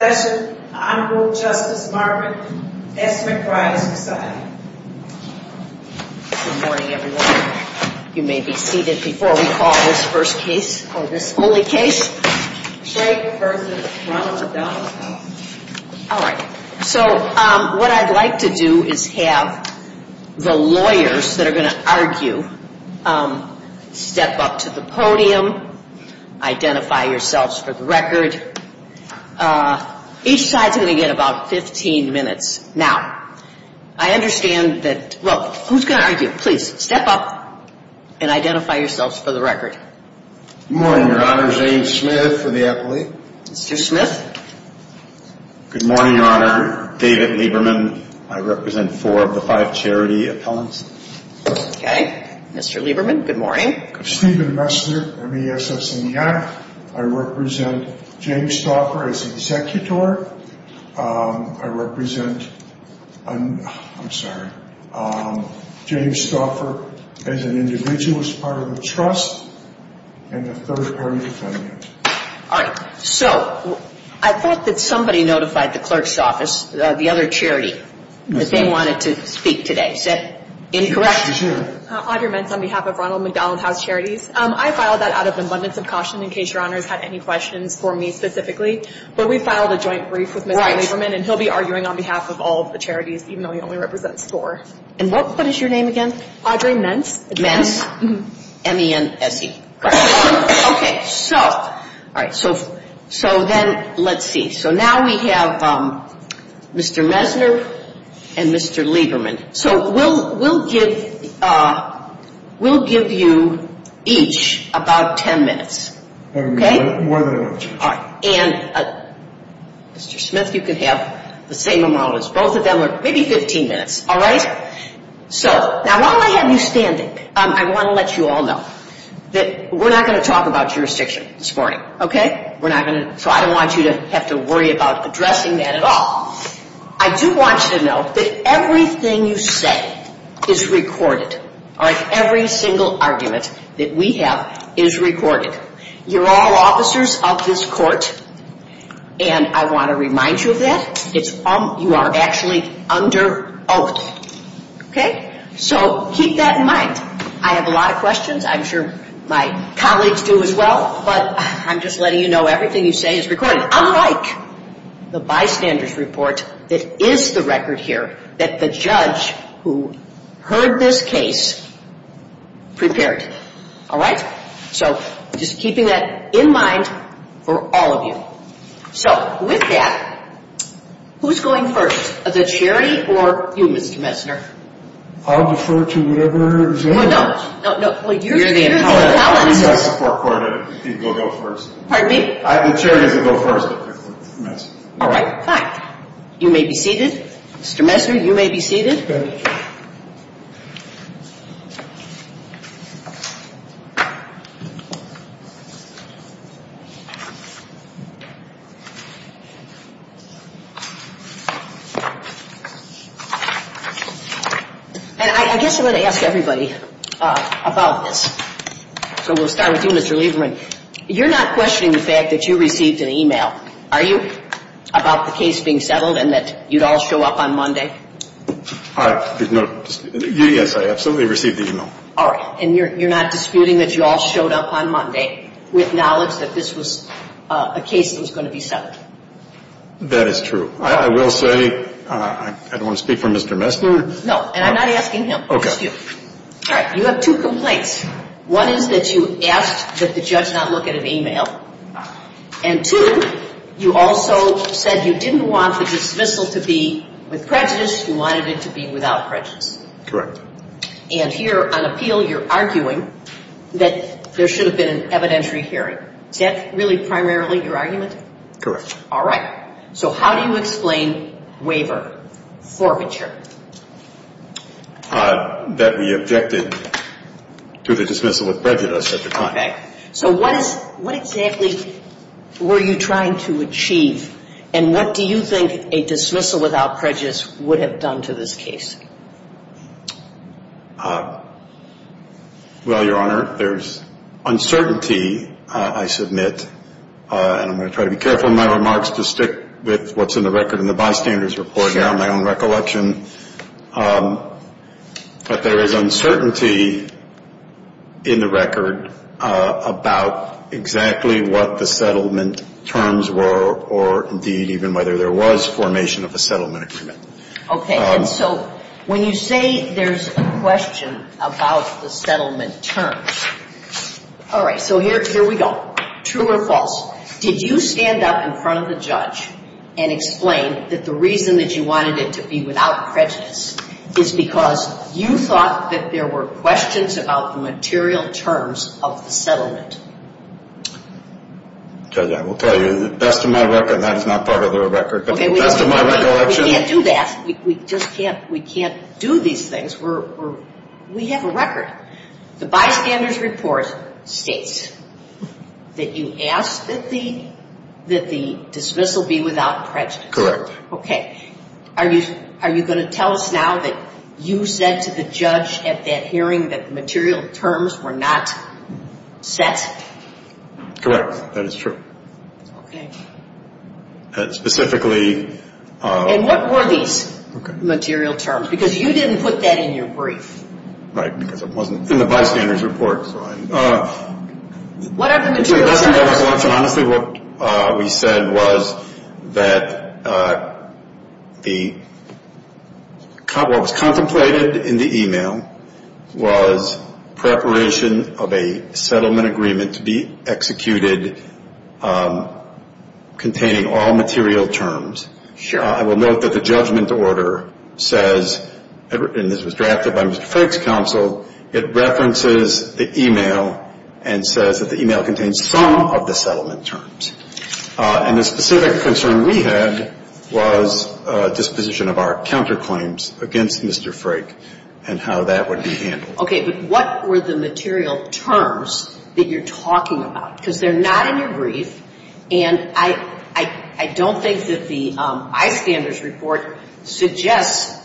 Good morning everyone, you may be seated before we call this first case, or this only case. Today we're going to run a ballot. Alright, so what I'd like to do is have the lawyers that are going to argue step up to the podium, identify yourselves for the record. Each side's going to get about 15 minutes. Now, I understand that, well, who's going to argue? Please step up and identify yourselves for the record. Good morning, Your Honor. James Smith for the affiliate. Mr. Smith. Good morning, Your Honor. David Lieberman. Okay. Mr. Lieberman, good morning. Steven Messner, MESS and YAC. I represent James Stauffer as an executor. I represent, I'm sorry, James Stauffer as an individualist part of the trust, and the third party defendant. Alright, so, I thought that somebody notified the clerk's office, the other chairs, that they wanted to speak today. Is that incorrect? Audrey Mentz on behalf of Ronald McDonald House Charities. I filed that out of abundance of caution in case Your Honor had any questions for me specifically, but we filed a joint brief with Mr. Lieberman, and he'll be arguing on behalf of all of the charities, even though he only represents four. And what is your name again? Audrey Mentz. Mentz? M-E-N-T-Z. Okay, so, alright, so then let's see. So now we have Mr. Messner and Mr. Lieberman. So we'll give you each about ten minutes. One minute? One minute. Alright, and Mr. Smith, you can have the same amount as both of them, or maybe 15 minutes, alright? So, now while I have you standing, I want to let you all know that we're not going to talk about jurisdiction this morning, okay? We're not going to, so I don't want you to have to worry about addressing that at all. I do want you to know that everything you say is recorded, alright? Every single argument that we have is recorded. You're all officers of this court, and I want to remind you of that. You are actually under oath, okay? So keep that in mind. I have a lot of questions. I'm sure my colleagues do as well, but I'm just letting you know everything you say is recorded. But unlike the bystander's report, it is the record here that the judge who heard this case prepared. Alright? So, just keeping that in mind for all of you. So, with that, who's going first? The charity or you, Mr. Messner? I'll defer to Lieberman. No, no. You're the attorney. You're the attorney. You're my support partner. You can go first. Pardon me? I'm assuring you to go first. Alright. You may be seated. Mr. Messner, you may be seated. And I guess I want to ask everybody about this. So I'll do this to Lieberman. You're not questioning the fact that you received an e-mail, are you, about the case being settled and that you'd all show up on Monday? Yes, I absolutely received the e-mail. Alright. And you're not disputing that you all showed up on Monday with knowledge that this was a case that was going to be settled? That is true. I will say, I don't want to speak for Mr. Messner. No, and I'm not asking him. Okay. Alright. You have two complaints. One is that you asked that the judge not look at an e-mail. And two, you also said you didn't want the dismissal to be with prejudice. You wanted it to be without prejudice. Correct. And here, on appeal, you're arguing that there should have been an evidentiary hearing. Is that really primarily your argument? Correct. Alright. So how do you explain waiver for maternity? That we objected to the dismissal with prejudice at the time. Okay. So what exactly were you trying to achieve? And what do you think a dismissal without prejudice would have done to this case? Well, Your Honor, there's uncertainty, I submit. And I'm going to try to be careful in my remarks to stick with what's in the record in the bystanders report and my own recollection. But there is uncertainty in the record about exactly what the settlement terms were or, indeed, even whether there was formation of a settlement agreement. Okay. And so when you say there's a question about the settlement terms. Alright. So here we go. True or false? Did you stand up in front of the judge and explain that the reason that you wanted it to be without prejudice is because you thought that there were questions about the material terms of the settlement? Judge, I will tell you, that's my record. That's not part of the record. That's my recollection. Okay. We can't do that. We just can't. We can't do these things. We have a record. The bystanders report states that you asked that the dismissal be without prejudice. Correct. Okay. Are you going to tell us now that you said to the judge at that hearing that material terms were not set? Correct. That is true. Okay. And specifically... And what were these material terms? Because you didn't put that in your brief. Right. Because it wasn't in the bystanders report. Right. What we said was that what was contemplated in the email was preparation of a settlement agreement to be executed containing all material terms. Sure. I will note that the judgment order says, and this was drafted by Mr. Frake's counsel, it references the email and says that the email contains some of the settlement terms. And the specific concern we had was disposition of our counterclaims against Mr. Frake and how that would be handled. Okay. But what were the material terms that you're talking about? Because they're not in your brief. And I don't think that the bystanders report suggests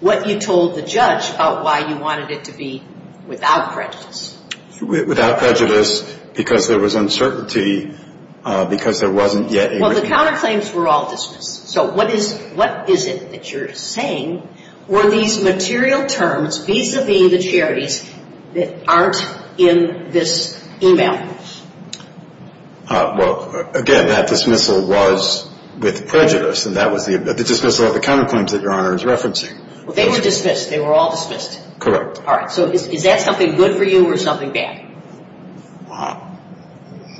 what you told the judge about why you wanted it to be without prejudice. Without prejudice because there was uncertainty because there wasn't yet... No, the counterclaims were all dismissed. So what is it that you're saying were these material terms vis-a-vis the charities that aren't in this email? Well, again, that dismissal was with prejudice. And that was the dismissal of the counterclaims that Your Honor is referencing. Well, they were dismissed. They were all dismissed. Correct. All right. So is that something good for you or something bad?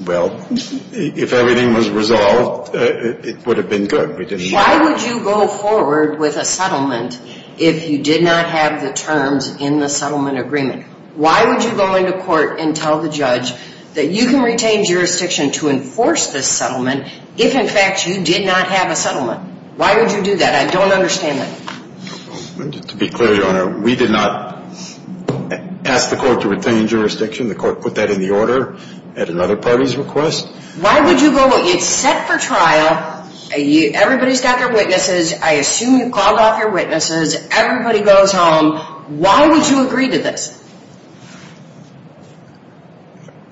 Well, if everything was resolved, it would have been good. Why would you go forward with a settlement if you did not have the terms in the settlement agreement? Why would you go in the court and tell the judge that you can retain jurisdiction to enforce this settlement if, in fact, you did not have a settlement? Why would you do that? I don't understand that. To be clear, Your Honor, we did not ask the court to retain jurisdiction. The court put that in the order at another party's request. Why would you go... It's set for trial. Everybody's got their witnesses. I assume you called out your witnesses. Everybody goes home. Why would you agree to this?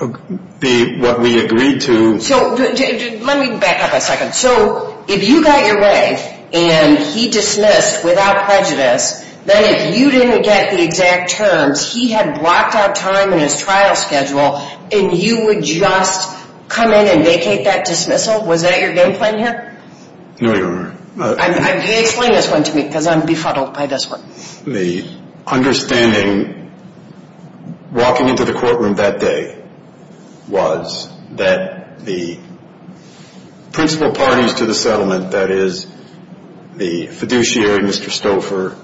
What we agreed to... Let me back up a second. So if you got your way and he dismissed without prejudice, then if you didn't get the exact terms, he had blocked our time in his trial schedule and you would just come in and vacate that dismissal? Was that your game plan here? No, Your Honor. Explain this one to me because I'm befuddled by this one. The understanding walking into the courtroom that day was that the principal parties to the settlement, that is the fiduciary, Mr. Stouffer,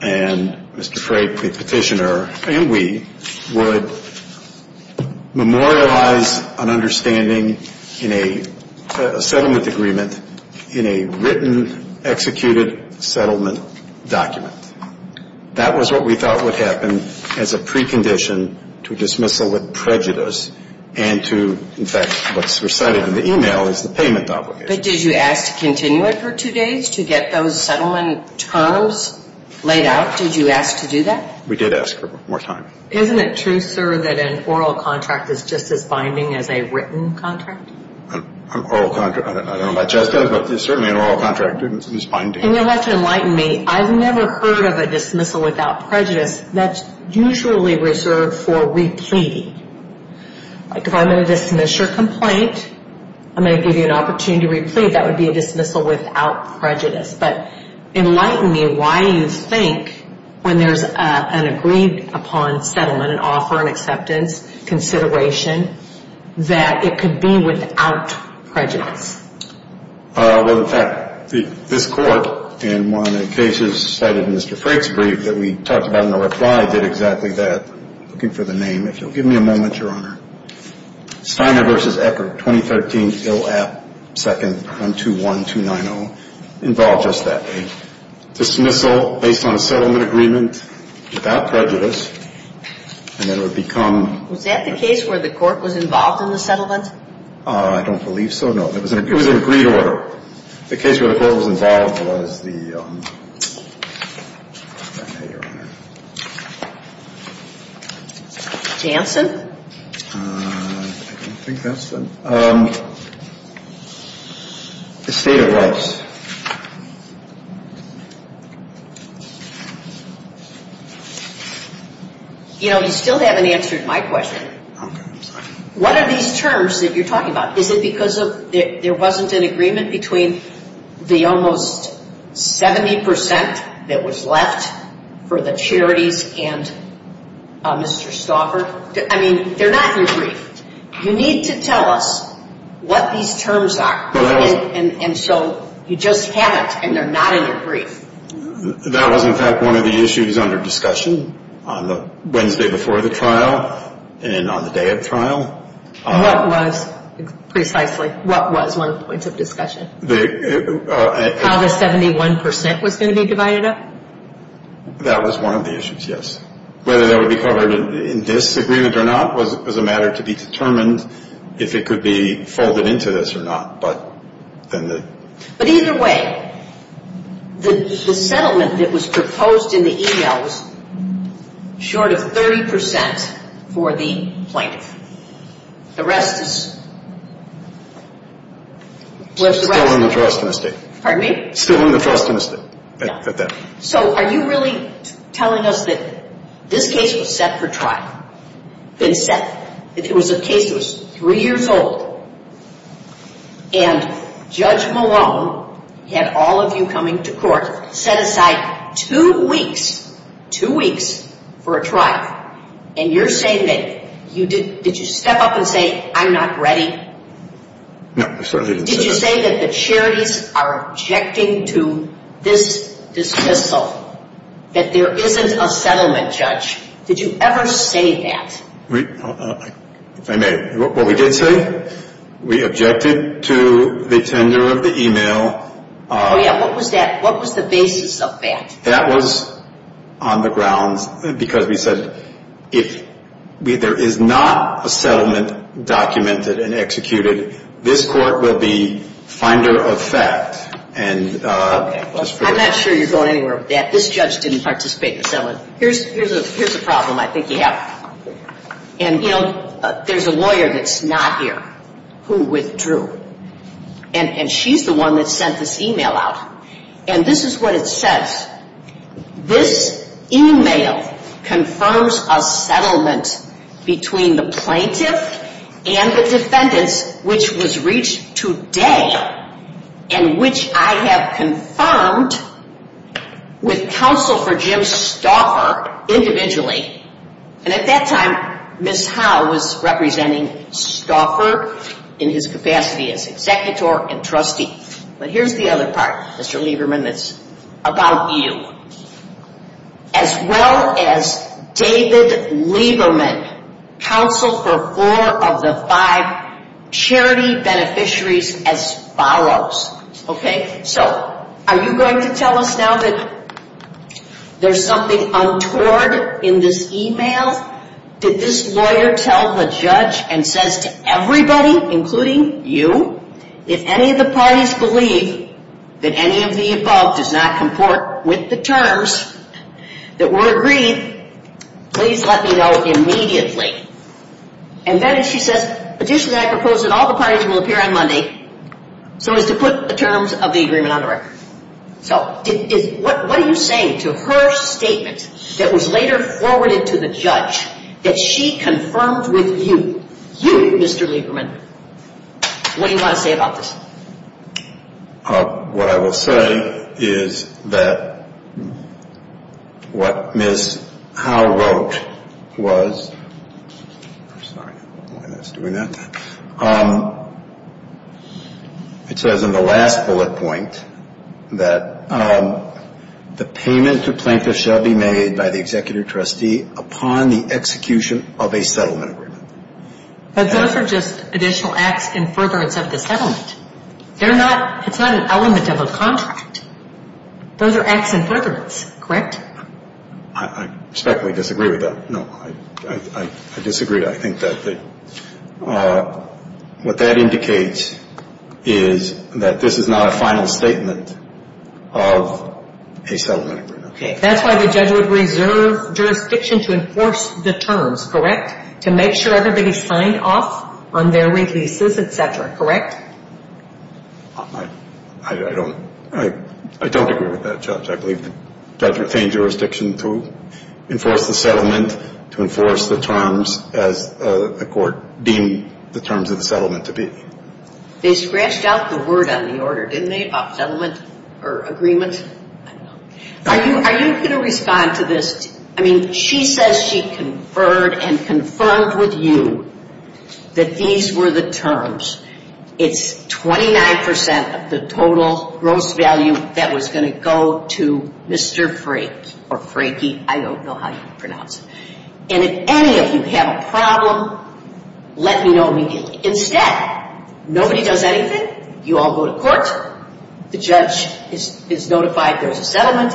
and Mr. Frake, the petitioner, and we would memorialize an understanding in a settlement agreement in a written, executed settlement document. That was what we thought would happen as a precondition to dismissal with prejudice and to, in fact, what's recited in the email is the payment obligation. But did you ask to continue it for two days to get those settlement terms laid out? Did you ask to do that? We did ask for more time. Isn't it true, sir, that an oral contract is just as binding as a written contract? An oral contract, I don't know about you, but certainly an oral contract is binding. And you'll have to enlighten me. I've never heard of a dismissal without prejudice. That's usually reserved for repeating. Like if I'm going to dismiss your complaint, I'm going to give you an opportunity to repeat. That would be a dismissal without prejudice. But enlighten me why you think when there's an agreed upon settlement, an offer, an acceptance, consideration, that it could be without prejudice. Well, in fact, this court, in one of the cases cited in Mr. Frake's brief that we talked about in the reply, did exactly that. I'm looking for the name, if you'll give me a moment, Your Honor. Steiner v. Eckert, 2013, Hill App, 2nd, 121-290. Involved us that day. Dismissal based on a settlement agreement without prejudice, and then it would become... Was that the case where the court was involved in the settlement? I don't believe so, no. It was an agreed order. The case where the court was involved was the... Janssen? I think that's the... The state of rights. You know, you still haven't answered my question. What are these terms that you're talking about? Is it because there wasn't an agreement between the almost 70% that was left for the charities and Mr. Stauffer? I mean, they're not in your brief. You need to tell us what these terms are, and so you just had it, and they're not in your brief. That was, in fact, one of the issues under discussion on the Wednesday before the trial and on the day of the trial. What was, precisely, what was one of the points of discussion? How the 71% was going to be divided up? That was one of the issues, yes. Whether that would be covered in this agreement or not was a matter to be determined if it could be folded into this or not. But either way, the settlement that was proposed in the e-mail was short of 30% for the, like, the rest of us. Still in the trust in this case. Pardon me? Still in the trust in this case. So are you really telling us that this case was set for trial? It was a case that was three years old, and Judge Malone had all of you coming to court, set aside two weeks, two weeks for a trial. And you're saying that, did you step up and say, I'm not ready? No, I certainly didn't. Did you say that the charities are objecting to this dismissal, that there isn't a settlement, Judge? Did you ever say that? I may. What we did say, we objected to the tenure of the e-mail. Oh, yeah. What was that? What was the basis of that? That was on the ground because we said if there is not a settlement documented and executed, this court will be finder of fact. I'm not sure you're going anywhere with that. This judge didn't participate in the settlement. Here's a problem I think you have. And, you know, there's a lawyer that's not here who withdrew. And she's the one that sent this e-mail out. And this is what it says. This e-mail confirms a settlement between the plaintiff and the defendant, which was reached today, and which I have confirmed with counsel for Jim Stauffer individually. And at that time, Ms. Howe was representing Stauffer in his capacity as executor and trustee. But here's the other part, Mr. Lieberman, that's about you. As well as David Lieberman, counsel for four of the five charity beneficiaries as follows. Okay? So are you going to tell us now that there's something untoward in this e-mail? Did this lawyer tell the judge and says to everybody, including you, if any of the parties believe that any of the involved does not comport with the terms that were agreed, please let me know immediately. And then she says, additionally, I propose that all the parties will appear on Monday so as to put the terms of the agreement on the record. What are you saying to her statement that was later forwarded to the judge that she confirmed with you, you, Mr. Lieberman? What do you want to say about this? What I will say is that what Ms. Howe wrote was, I'm sorry, I'm doing that. It says in the last bullet point that the payment to plaintiffs shall be made by the executive trustee upon the execution of a settlement agreement. Those are just additional acts in furtherance of the settlement. It's not an element of a contract. Those are acts in furtherance, correct? I respectfully disagree with that. No, I disagree. What that indicates is that this is not a final statement of a settlement agreement. Okay. That's why the judge would reserve jurisdiction to enforce the terms, correct? To make sure everybody signed off on their releases, et cetera, correct? I don't agree with that judge. I believe the judge retained jurisdiction to enforce the settlement, to enforce the terms as a court deemed the terms of the settlement to be. They scratched out the word on the order, didn't they, about settlement or agreement? Are you going to respond to this? I mean, she says she conferred and confirmed with you that these were the terms. It's 29% of the total gross value that was going to go to Mr. Freight, or Freighty. I don't know how you pronounce it. And if any of you have a problem, let me know. Instead, nobody does anything. You all go to court. The judge is notified there's a settlement.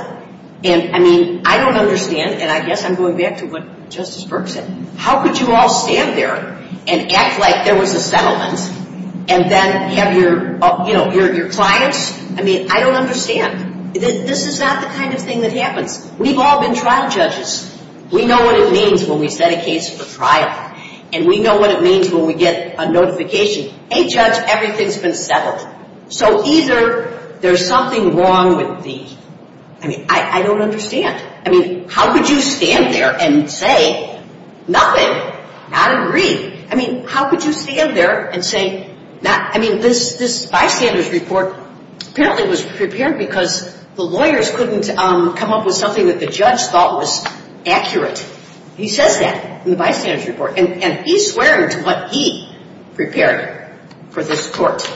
And, I mean, I don't understand, and I guess I'm going back to what Justice Burke said. How could you all stand there and act like there was a settlement and then have your clients? I mean, I don't understand. This is not the kind of thing that happened. We've all been trial judges. We know what it means when we set a case for trial. And we know what it means when we get a notification, hey, judge, everything's been settled. So either there's something wrong with these. I mean, I don't understand. I mean, how could you stand there and say nothing? I don't agree. I mean, how could you stand there and say nothing? I mean, this Vice Candidate's report apparently was prepared because the lawyers couldn't come up with something that the judge thought was accurate. He says that in the Vice Candidate's report. And he swears what he prepared for this court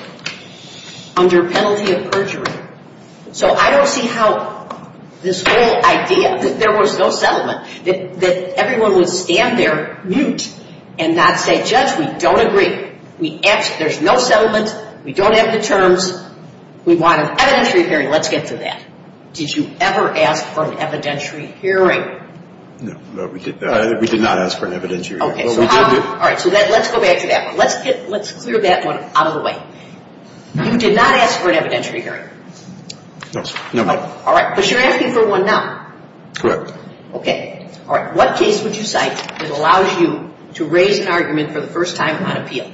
under penalty of perjury. So I don't see how this whole idea that there was no settlement, that everyone would stand there, mute, and not say, judge, we don't agree. There's no settlement. We don't have the terms. We want an evidentiary hearing. Let's get to that. Did you ever ask for an evidentiary hearing? No, we did not ask for an evidentiary hearing. All right, so let's go back to that one. Let's clear that one out of the way. You did not ask for an evidentiary hearing? No. All right, but you're asking for one now. Correct. Okay. All right, what case would you cite that allows you to raise an argument for the first time on appeal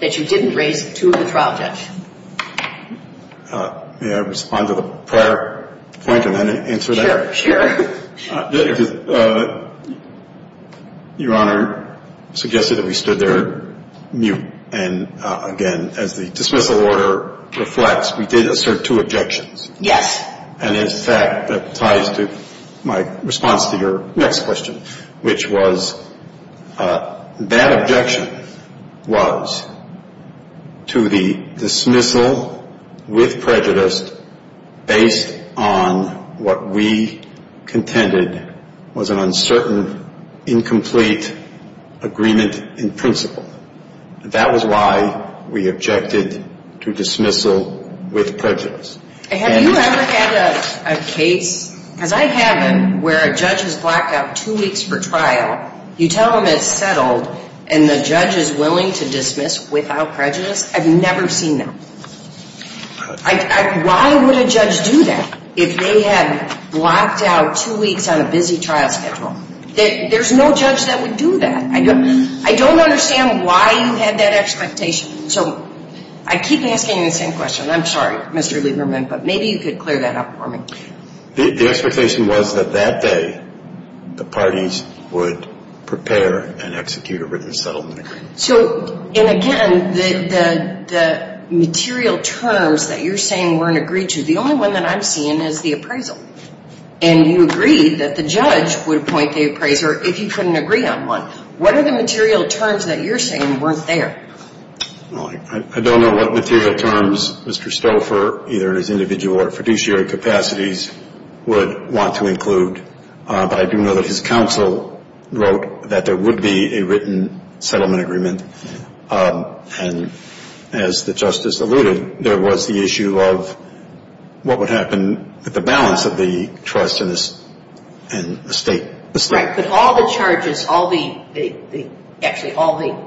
that you didn't raise through the trial judge? May I respond to the prior point and then answer that? Sure, sure. Your Honor suggested that we stood there mute, and again, as the dismissal order reflects, we did assert two objections. Yes. And, in fact, that ties to my response to your next question, which was that objection was to the dismissal with prejudice based on what we contended was an uncertain, incomplete agreement in principle. That was why we objected to dismissal with prejudice. Have you ever had a case? Has that happened where a judge is blocked out two weeks for trial, you tell them it's settled, and the judge is willing to dismiss without prejudice? I've never seen that. Why would a judge do that if they had blocked out two weeks on a busy trial schedule? There's no judge that would do that. I don't understand why you had that expectation. So I keep asking the same question. I'm sorry, Mr. Lieberman, but maybe you could clear that up for me. The expectation was that that day the parties would prepare and execute a written settlement. So, and again, the material terms that you're saying weren't agreed to, the only one that I've seen is the appraisal, and you agreed that the judge would point to the appraiser if he couldn't agree on one. What are the material terms that you're saying weren't there? I don't know what material terms Mr. Stouffer, either in his individual or fiduciary capacities, would want to include, but I do know that his counsel wrote that there would be a written settlement agreement, and as the Justice alluded, there was the issue of what would happen with the balance of the trust and the state. Right, but all the charges, actually all the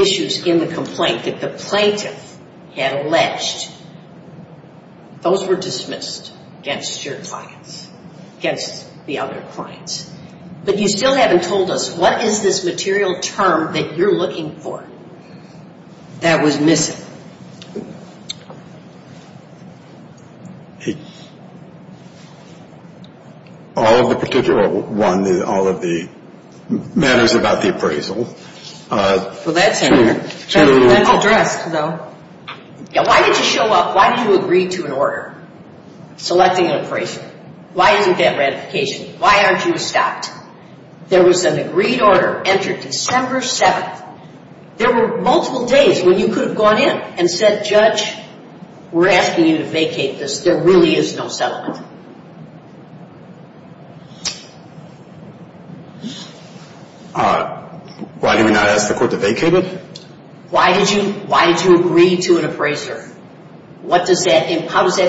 issues in the complaint that the plaintiff had alleged, those were dismissed against your client, against the other client. But you still haven't told us what is this material term that you're looking for that was missing? All of the particular one, all of the matters about the appraisal. So that's addressed, though. Why did you show up? Why did you agree to an order selecting an appraisal? Why didn't you get ratification? Why aren't you stopped? There was an agreed order entered December 7th. There were multiple days where you could have gone in and said, Judge, we're asking you to vacate this. There really is no settlement. Why did we not ask the court to vacate it? Why did you agree to an appraiser? How does that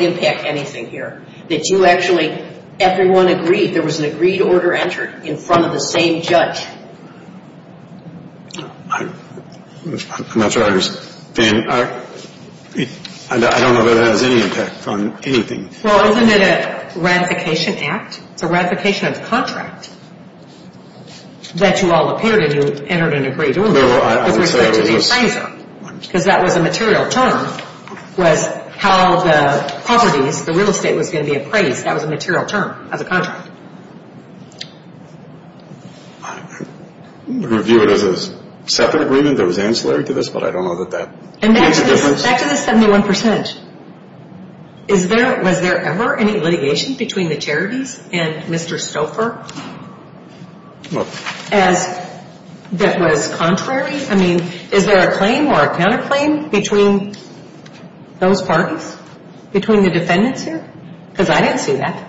impact anything here? Everyone agrees there was an agreed to order entered in front of the same judge. I don't know whether that has any impact on anything. Well, isn't it a ratification act? A ratification of the contract? That you all appeared to have entered in an agreed to order. Because that was a material term. How the property, the real estate, was going to be appraised, that was a material term of the contract. I would review it as a second agreement that was ancillary to this, but I don't know that that makes a difference. And that gives us 71%. Was there ever any litigation between the charities and Mr. Stouffer that was contrary? I mean, is there a claim or a counterclaim between those parties, between the defendants here? Because I didn't see that.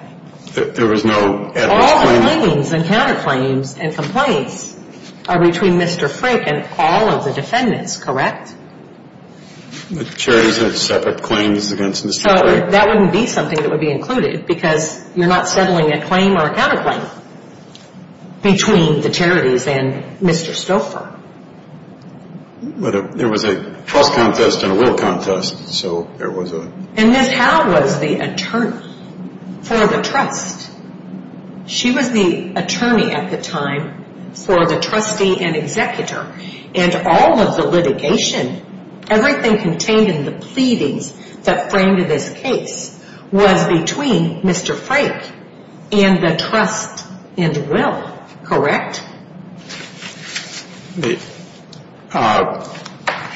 All claims and counterclaims and complaints are between Mr. Frick and all of the defendants, correct? The charities have separate claims against Mr. Frick. So that wouldn't be something that would be included, because you're not settling a claim or a counterclaim between the charities and Mr. Stouffer. But there was a trust contest and a will contest, so there was a... And Ms. Howe was the attorney for the trust. She was the attorney at the time for the trustee and executor. And all of the litigation, everything containing the proceedings that framed this case, was between Mr. Frick and the trust and the will, correct?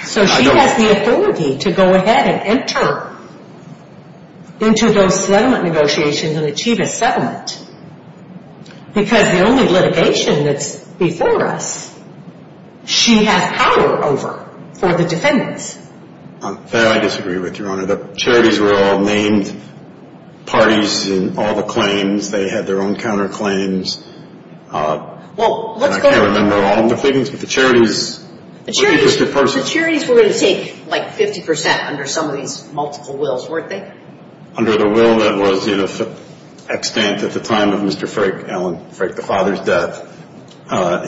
So she had the authority to go ahead and enter into those settlement negotiations and achieve a settlement. Because the only litigation that's before us, she has power over for the defendants. I disagree with you, Your Honor. The charities were all named parties in all the claims. They had their own counterclaims. I can't remember all the things, but the charities... The charities were going to take, like, 50% under somebody's multiple wills, weren't they? Under the will that was in an abstent at the time of Mr. Frick, Alan Frick, the father's death,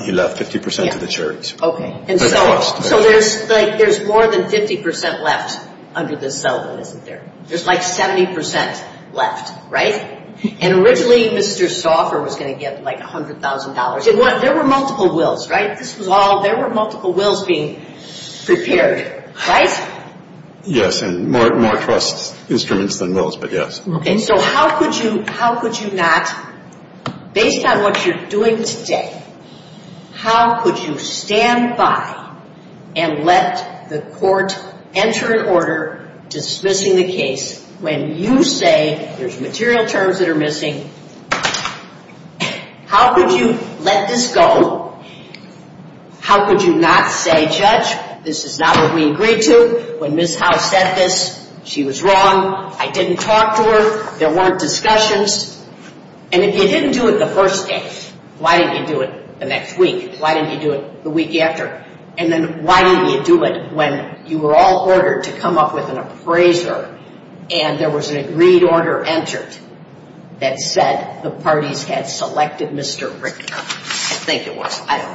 he left 50% to the charities. Okay. So there's more than 50% left under this settlement, isn't there? There's, like, 70% left, right? And originally, Mr. Stauffer was going to get, like, $100,000. There were multiple wills, right? There were multiple wills being prepared, right? Yes, and more trust instruments than wills, but yes. And so how could you not, based on what you're doing today, how could you stand by and let the court enter an order dismissing the case when you say there's material terms that are missing? How could you let this go? How could you not say, Judge, this is not what we agreed to? When Ms. House said this, she was wrong. I didn't talk to her. There weren't discussions. And if you didn't do it the first day, why didn't you do it the next week? Why didn't you do it the week after? And then why didn't you do it when you were all ordered to come up with an appraiser and there was an agreed order entered that said the parties had selected Mr. Richter? I think it was. I don't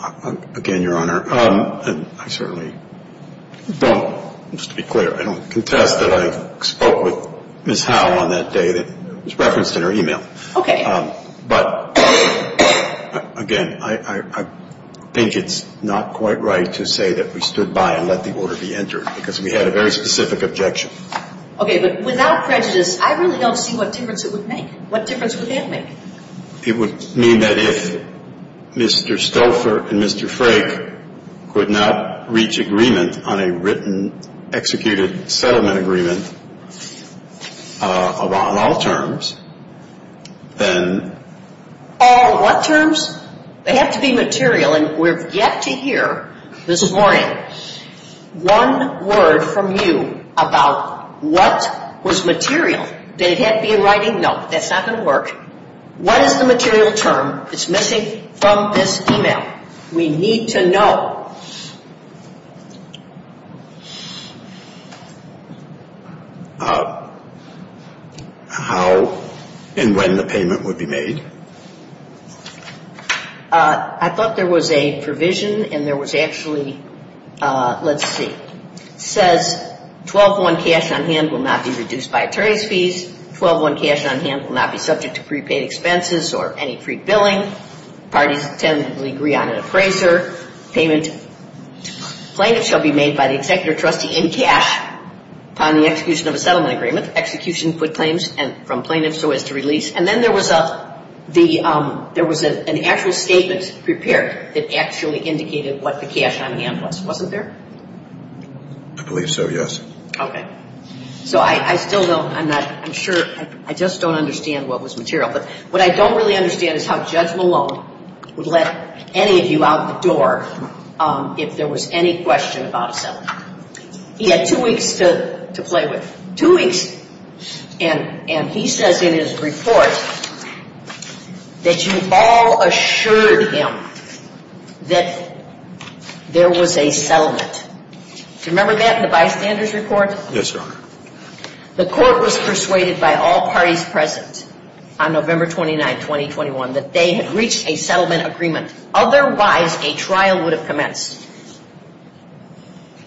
know. Again, Your Honor, I certainly don't, just to be clear, I don't contest that I spoke with Ms. Howe on that day that was referenced in her e-mail. Okay. But, again, I think it's not quite right to say that we stood by and let the order be entered because we had a very specific objection. Okay, but without prejudice, I really don't see what difference it would make. What difference would that make? It would mean that if Mr. Stouffer and Mr. Frake would not reach agreement on a written, executed settlement agreement on all terms, then... All what terms? They have to be material, and we're yet to hear this morning one word from you about what was material. Did it have to be in writing? No, that's not going to work. What is the material term that's missing from this e-mail? We need to know. How and when the payment would be made? I thought there was a provision, and there was actually, let's see. It says, 12-1 cash on hand will not be reduced by attorney's fees. 12-1 cash on hand will not be subject to prepaid expenses or any prepaid billing. Parties tend to agree on an appraiser payment. Claims shall be made by the executive trustee in cash upon the execution of a settlement agreement. Executions with claims and from plaintiffs so as to release. And then there was an actual statement prepared that actually indicated what the cash on hand was. Was it there? I believe so, yes. Okay. So, I still don't, I'm not, I'm sure, I just don't understand what was material. What I don't really understand is how Jeff Malone would let any of you out the door if there was any question about a settlement. He had two weeks to play with, two weeks. And he says in his report that you all assured him that there was a settlement. Do you remember that in the bystander's report? Yes, sir. The court was persuaded by all parties present on November 29, 2021, that they had reached a settlement agreement. Otherwise, a trial would have commenced.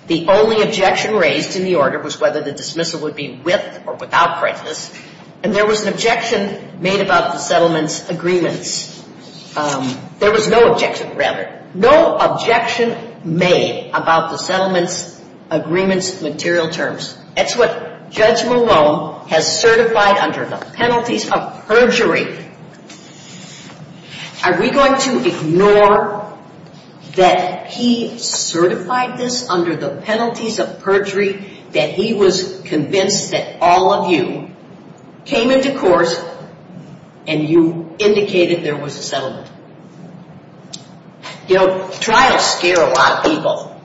The only objection raised in the order was whether the dismissal would be with or without prices. And there was an objection made about the settlement agreements. There was no objection, rather. That's what Judge Malone has certified under the penalties of perjury. Are we going to ignore that he certified this under the penalties of perjury? That he was convinced that all of you came into court and you indicated there was a settlement. You know, trials scare a lot of people.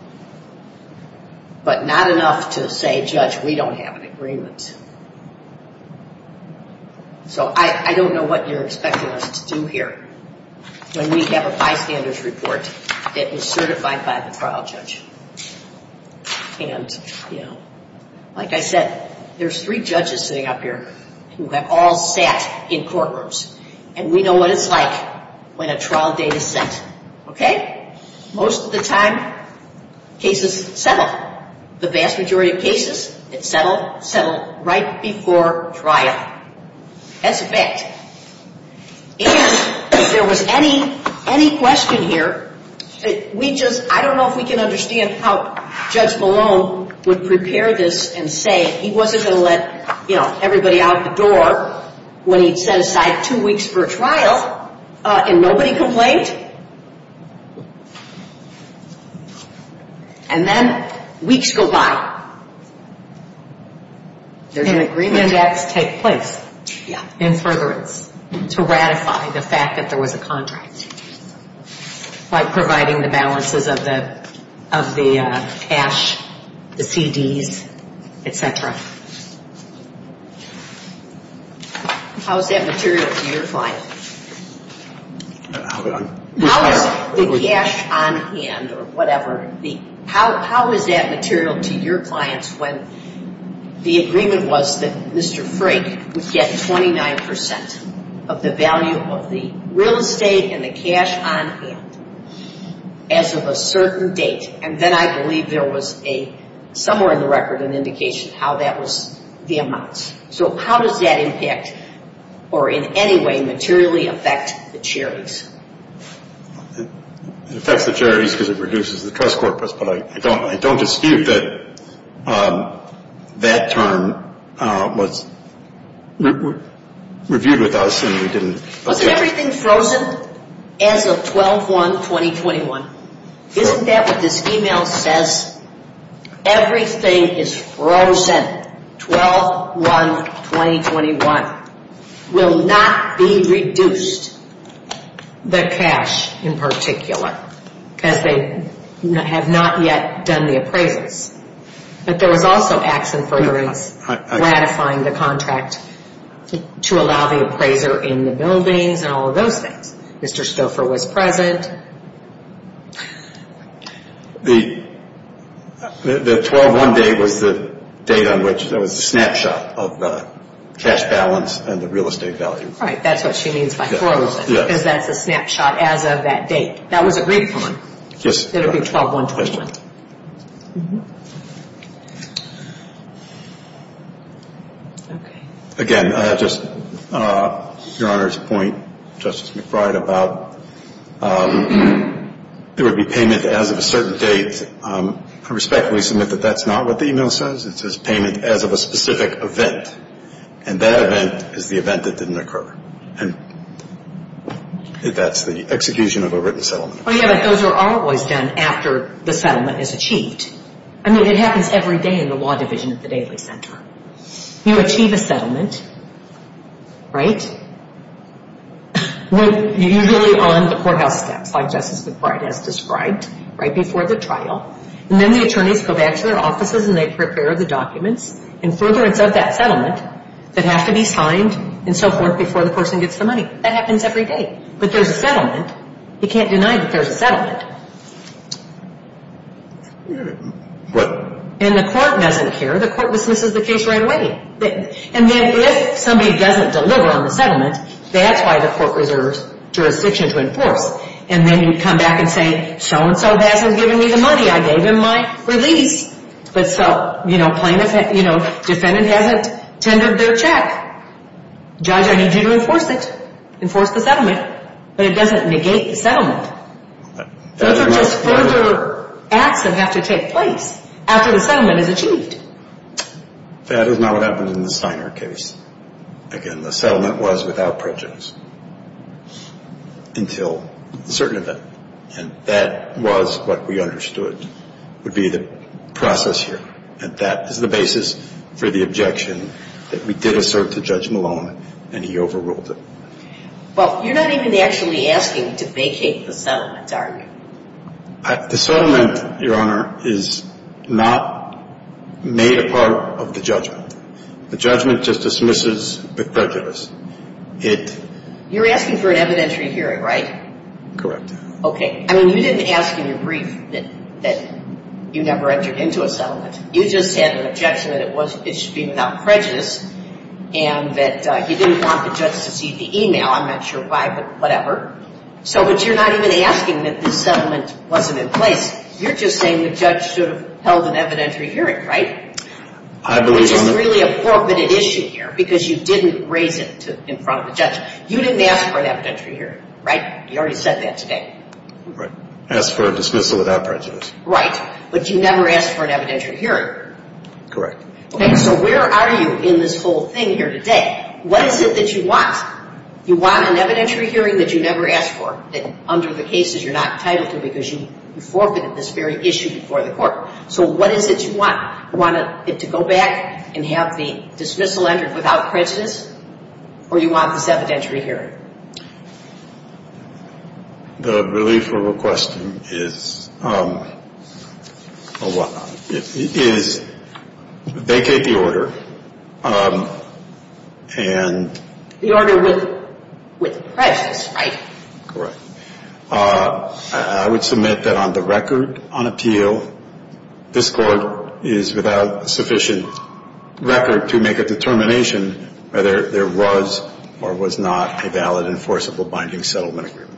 But not enough to say, Judge, we don't have an agreement. So I don't know what you're expecting us to do here when we have a bystander's report that was certified by the trial judge. Like I said, there's three judges sitting up here who have all sat in courtrooms. And we know what it's like when a trial date is set. Okay? Most of the time, cases settle. The vast majority of cases, it settles right before trial. That's a fact. And if there was any question here, I don't know if we can understand how Judge Malone would prepare this and say he wasn't going to let everybody out the door when he set aside two weeks for a trial and nobody complained. And then weeks go by. There's an agreement that has to take place in furtherance to ratify the fact that there was a contract. Like providing the balances of the cash, the CDs, etc. How is that material for your client? Hold on. The cash on hand or whatever, how is that material to your clients when the agreement was that Mr. Frank was getting 29% of the value of the real estate and the cash on hand as of a certain date? And then I believe there was a, somewhere in the record, an indication of how that was the amount. So how does that impact or in any way materially affect the charities? It affects the charities because it reduces the trust corpus, but I don't dispute that that term was reviewed with us and we didn't. Okay. Everything's frozen as of 12-1-2021. Isn't that what this email says? Everything is frozen 12-1-2021. Will not be reduced, the cash in particular, because they have not yet done the appraisals. But there was also action for ratifying the contract to allow the appraiser in the building and all of those things. Mr. Stouffer was present. The 12-1 date was the date on which there was a snapshot of the cash balance and the real estate value. Right. That's what you mean by frozen because that's a snapshot as of that date. That was agreed upon. Yes. That it would be 12-1-2021. Yes, ma'am. Okay. Again, just to Your Honor's point, Justice McBride, about there would be payment as of a certain date. I respectfully submit that that's not what the email says. It says payment as of a specific event, and that event is the event that didn't occur, and that's the execution of a written settlement. Oh, yes. Those are always done after the settlement is achieved. I mean, it happens every day in the law division at the Daly Center. You achieve a settlement, right, usually on the courthouse tax, like Justice McBride has described, right before the trial, and then the attorneys go back to their offices, and they prepare the documents, and further, it does that settlement that has to be signed and so forth before the person gets the money. That happens every day. But there's a settlement. You can't deny that there's a settlement. What? And the court doesn't care. The court dismisses the case right away. And if somebody doesn't deliver on the settlement, that's why the court reserves jurisdiction to enforce. And then you come back and say, so-and-so has given me the money. I gave him my release. But so, you know, defendant has tendered their check. Judge, I need you to enforce it, enforce the settlement. But it doesn't negate the settlement. It doesn't negate the settlement. That is not what happens in the Steiner case. Again, the settlement was without prejudice until a certain event. And that was what we understood would be the process here. And that is the basis for the objection that we did assert to Judge Malone, and he overruled it. Well, you're not even actually asking to vacate the settlement, are you? The settlement, Your Honor, is not made a part of the judgment. The judgment just dismisses the prejudice. You're asking for an evidentiary hearing, right? Correct. Okay. I mean, you didn't ask in your brief that you never entered into a settlement. You just had an objection that it was issued without prejudice, and that you didn't want the judge to see the e-mail. I'm not sure why, but whatever. So, but you're not even asking that the settlement wasn't in place. You're just saying the judge should have held an evidentiary hearing, right? I believe I'm— This is really a forfeited issue here, because you didn't raise it in front of the judge. You didn't ask for an evidentiary hearing, right? You already said that today. Right. Asked for a dismissal without prejudice. Right. But you never asked for an evidentiary hearing. Correct. Okay. So, where are you in this whole thing here today? What is it that you want? You want an evidentiary hearing that you never asked for, and under the case that you're not entitled to because you forfeited this very issue before the court. So, what is it that you want? You want it to go back and have the dismissal entered without prejudice, or you want this evidentiary hearing? The relief or request is a what? It is they take the order and— The order with prejudice, right? Correct. I would submit that on the record on appeal, this court is without sufficient record to make a determination whether there was or was not a valid enforceable binding settlement agreement.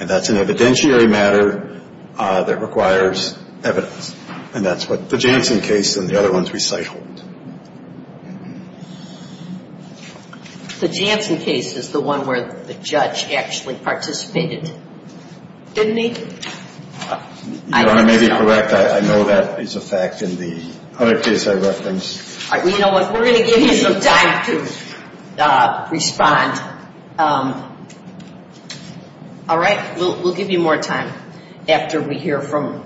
And that's an evidentiary matter that requires evidence, and that's what the Janssen case and the other ones we cite hold. The Janssen case is the one where the judge actually participated in it, isn't he? You may be correct. I know that is a fact in the other case I referenced. You know what? We're going to give you some time to respond. All right. We'll give you more time after we hear from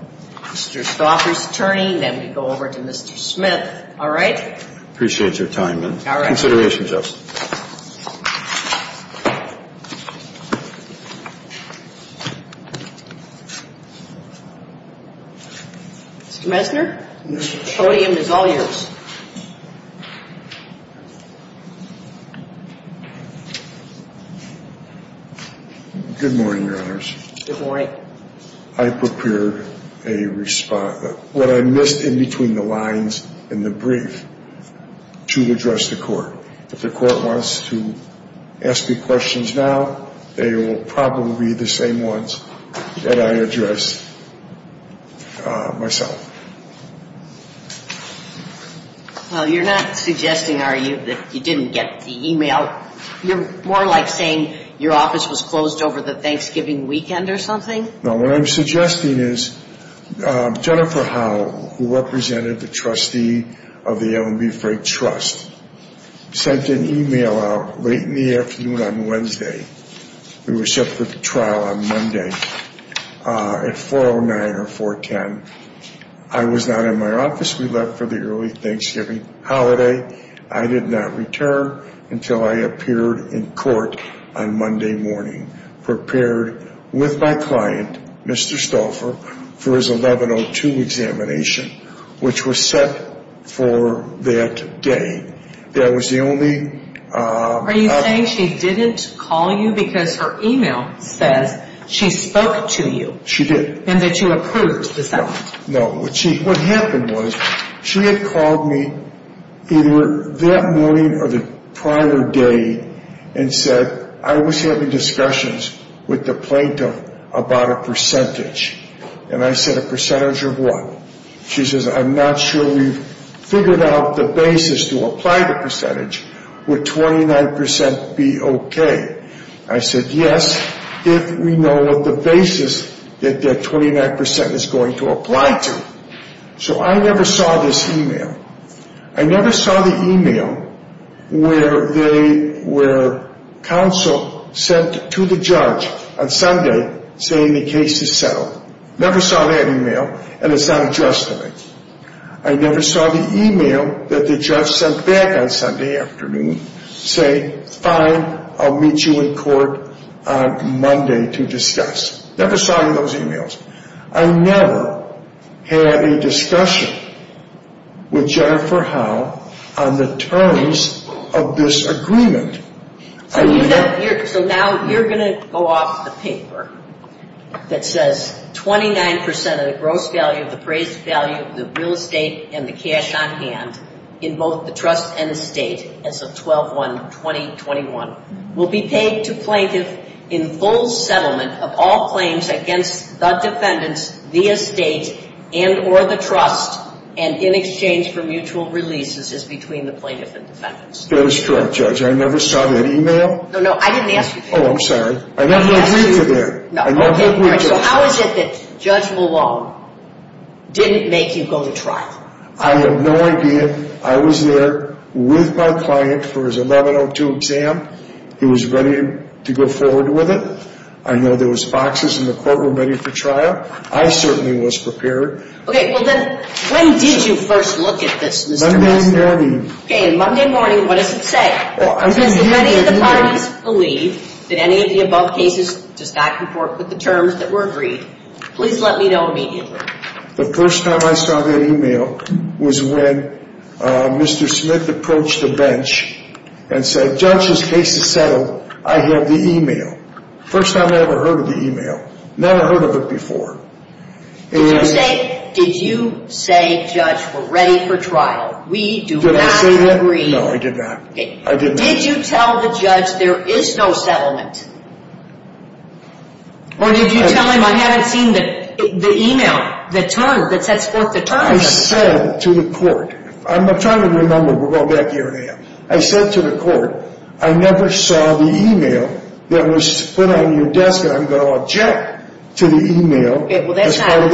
Mr. Stauffer's attorney, then we'll go over to Mr. Smith. All right? Appreciate your time, then. All right. Consideration, Justice. Mr. Messner, the podium is all yours. Good morning, Your Honors. Good morning. I prepared a response, what I missed in between the lines in the brief, to address the court. If the court wants to ask me questions now, they will probably be the same ones that I addressed myself. Well, you're not suggesting, are you, that you didn't get the e-mail? You're more like saying your office was closed over the Thanksgiving weekend or something? No. What I'm suggesting is Jennifer Howell, who represented the trustee of the Ellen B. Frank Trust, sent an e-mail out late in the afternoon on Wednesday. We were set for the trial on Monday at 4.09 or 4.10. I was not in my office. We left for the early Thanksgiving holiday. I did not return until I appeared in court on Monday morning, prepared with my client, Mr. Stauffer, for his 1102 examination, which was set for that day. That was the only – Are you saying she didn't call you because her e-mail said she spoke to you? She did. And that you approved, is that right? No. What happened was she had called me either that morning or the prior day and said, I was in discussions with the plaintiff about a percentage. And I said, a percentage of what? She says, I'm not sure we've figured out the basis to apply the percentage. Would 29% be okay? I said, yes, if we know what the basis that that 29% is going to apply to. So I never saw this e-mail. I never saw the e-mail where counsel sent to the judge on Sunday saying the case is settled. Never saw that e-mail, and it's not addressed to me. I never saw the e-mail that the judge sent back on Sunday afternoon saying, fine, I'll meet you in court on Monday to discuss. Never saw those e-mails. I never had a discussion with Jennifer Howe on the terms of this agreement. So now you're going to go off the paper that says 29% of the gross value, the phrase value, the real estate and the cash on hand in both the trust and the state as of 12-1-2021 will be paid to plaintiffs in full settlement of all claims against the defendants via state and or the trust and in exchange for mutual releases as between the plaintiffs and defendants. That is correct, Judge. I never saw that e-mail. No, no, I didn't ask you to. Oh, I'm sorry. I never agreed to that. How is it that Judge Malone didn't make you go to trial? I have no idea. I was there with my client for his 1102 exam. He was ready to go forward with it. I know there was boxes in the courtroom ready for trial. I certainly was prepared. Okay, well then, when did you first look at this result? Monday morning. Okay, Monday morning. What does it say? Well, I'm going to hand it to you. I do not believe that any of the above cases does not comport with the terms that were agreed. Please let me know immediately. The first time I saw that e-mail was when Mr. Smith approached the bench and said, Judge, this case is settled. I had the e-mail. First time I ever heard of the e-mail. Never heard of it before. Did you say, Judge, we're ready for trial? We do not agree. Did I say that? No, I did not. I did not. Did you tell the judge there is no settlement? Well, did you tell him I had it in the e-mail, the terms, the textbook, the terms? I said to the court, I'm trying to remember. We'll go back here in a minute. I said to the court, I never saw the e-mail that was put on your desk, and I'm going to object to the e-mail. Okay, well, that's not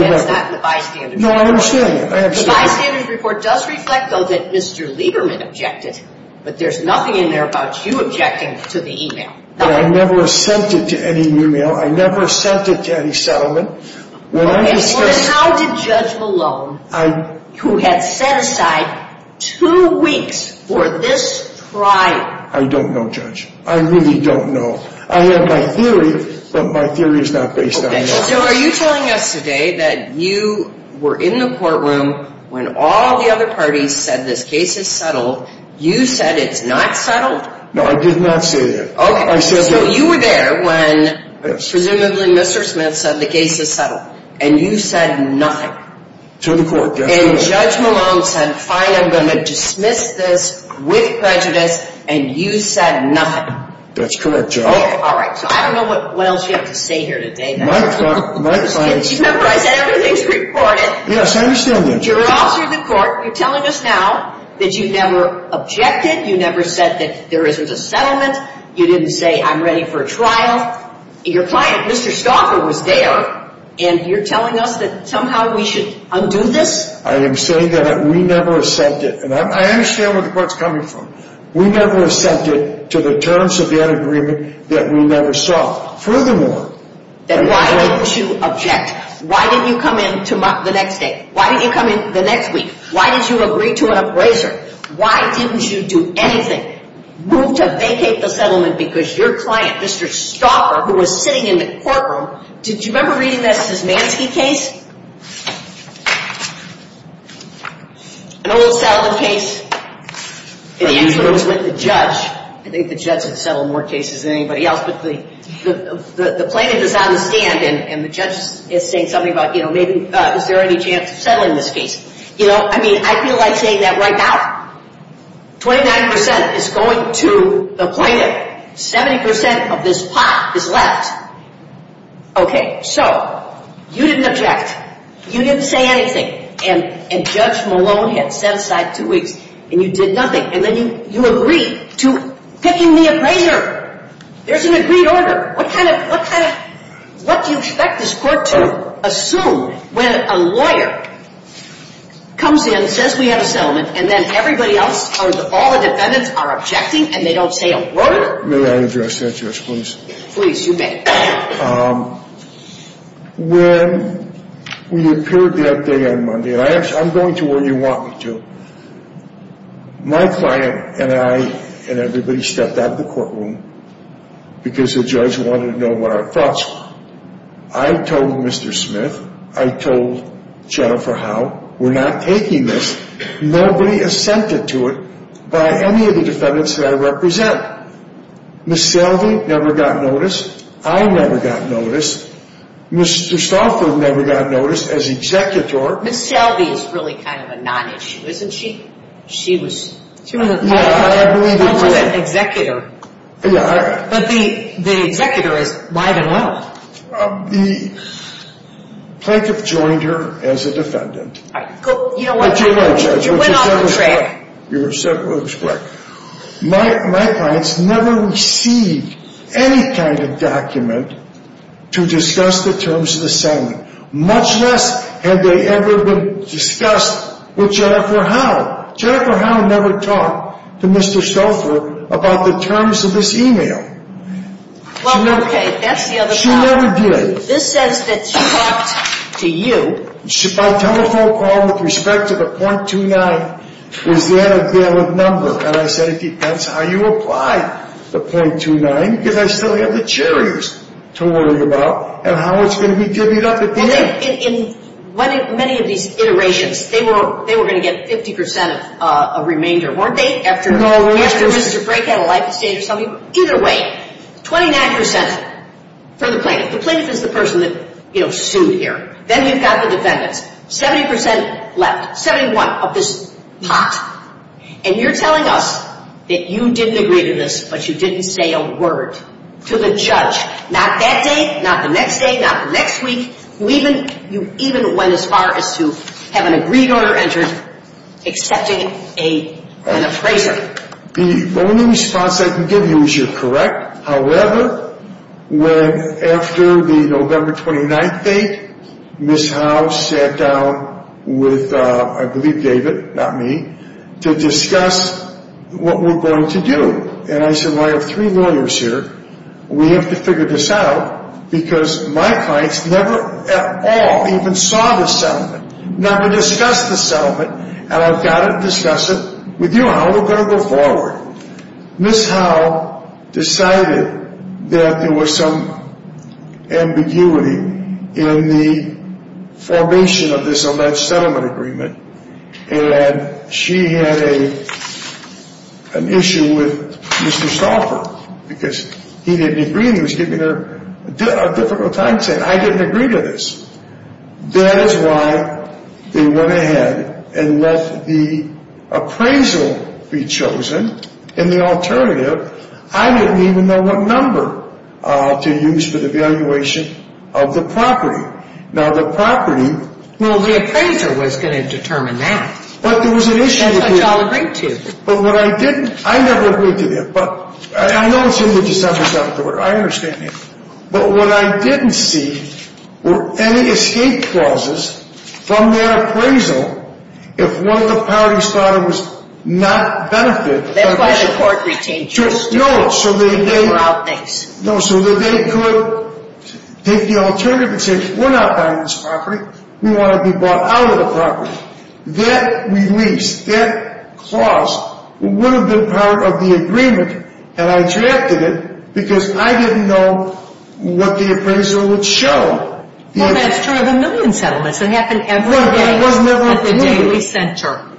the bystanders report. No, I understand. The bystanders report does reflect, though, that Mr. Lieberman objected, but there's nothing in there about you objecting to the e-mail. I never sent it to any e-mail. I never sent it to any settlement. Okay, well, how did Judge Malone, who had set aside two weeks for this trial. I don't know, Judge. I really don't know. So are you telling us today that you were in the courtroom when all the other parties said the case is settled, you said it's not settled? No, I did not say that. Okay, so you were there when presumably Mr. Smith said the case is settled, and you said nothing. To the court. And Judge Malone said, I am going to dismiss this with prejudice, and you said nothing. That's correct, Judge. Okay, all right. So I don't know what wells you have to say here today. My clients. Remember, I said everything's reported. Yes, I understand that. Your officers in court, you're telling us now that you never objected, you never said that there isn't a settlement, you didn't say, I'm ready for a trial. Your client, Mr. Stalker, was there, and you're telling us that somehow we should undo this? I am saying that we never accepted. And I understand where the court's coming from. We never accepted to the terms of the unagreement that we never saw. Furthermore. Then why didn't you object? Why didn't you come in the next day? Why didn't you come in the next week? Why didn't you agree to an appraiser? Why didn't you do anything? Move to vacate the settlement because your client, Mr. Stalker, who was sitting in the courtroom, did you remember reading that Szymanski case? An old settlement case. And he goes with the judge. I think the judge had settled more cases than anybody else. The plaintiff is out on the stand, and the judge is saying something about, you know, is there any chance of settling this case? You know, I mean, I feel like saying that right now. Twenty-nine percent is going to the plaintiff. Seventy percent of this pot is left. Okay. So, you didn't object. You didn't say anything. And Judge Malone had set aside two weeks. And you did nothing. And then you agreed to pitching the appraiser. There's an agreed order. What kind of, what kind of, what do you expect this court to assume when a lawyer comes in, and says we have a settlement, and then everybody else, all the defendants are objecting, and they don't say a word? May I address that, Judge, please? Please, you may. When we appeared that day on Monday, and I'm going to where you want me to. My client and I and everybody stepped out of the courtroom because the judge wanted to know what our thoughts were. I told Mr. Smith. I told Jennifer Howe. We're not taking this. Nobody assented to it by any of the defendants that I represent. Ms. Selby never got noticed. I never got noticed. Mr. Stauffer never got noticed as executor. Ms. Selby was really kind of a non-issue, isn't she? She was. She was an executor. But the executor might have helped. The plaintiff joined her as a defendant. You know what? You went off the track. My clients never received any kind of document to discuss the terms of the settlement. Much less had they ever been discussed with Jennifer Howe. Jennifer Howe never talked to Mr. Stauffer about the terms of this email. Well, okay. She never did. This says that she talked to you. My telephone call with respect to the .29 was granted bail of number. And I said it depends how you apply the .29 because I still have the cherries to worry about and how it's going to be divvied up at the end. In many of these iterations, they were going to get 50% of remainder. Weren't they? No, we weren't. Either way, 29% for the plaintiff. The plaintiff is the person that, you know, sued here. Then you've got the defendant. 70% left. 71% of this pot. And you're telling us that you didn't agree to this, but you didn't say a word to the judge. Not that day. Not the next day. Not the next week. You even went as far as to have an agreed-on or entered accepting an appraiser. The only response I can give you is you're correct. However, when after the November 29th date, Ms. Howe sat down with, I believe, David, not me, to discuss what we're going to do. And I said, well, I have three lawyers here. We have to figure this out because my clients never at all even saw the settlement. Never discussed the settlement. And I've got to discuss it with you now. We're going to go forward. Ms. Howe decided that there was some ambiguity in the formation of this alleged settlement agreement. And she had an issue with Mr. Stauffer because he didn't agree and was giving her a difficult time saying, I didn't agree to this. That is why they went ahead and let the appraisal be chosen and the alternative. I didn't even know what number to use for the valuation of the property. Now, the property... Well, the appraiser was going to determine that. But there was an issue with the... And the appraiser. But what I didn't... I never agreed to this. I know it's ridiculous to have to settle for it. I understand that. But what I didn't see were any escape clauses from their appraisal. If one of the parties thought it was not benefit... They were going to support these changes. No, so that they... They were outnamed. No, so that they could take the alternative and say, we're not buying this property. We want to be bought out of the property. That release, that clause, would have been part of the agreement. And I drafted it because I didn't know what the appraisal would show. Well, that's true of a million settlements. It happened every day. Every day. It was never at the daily center.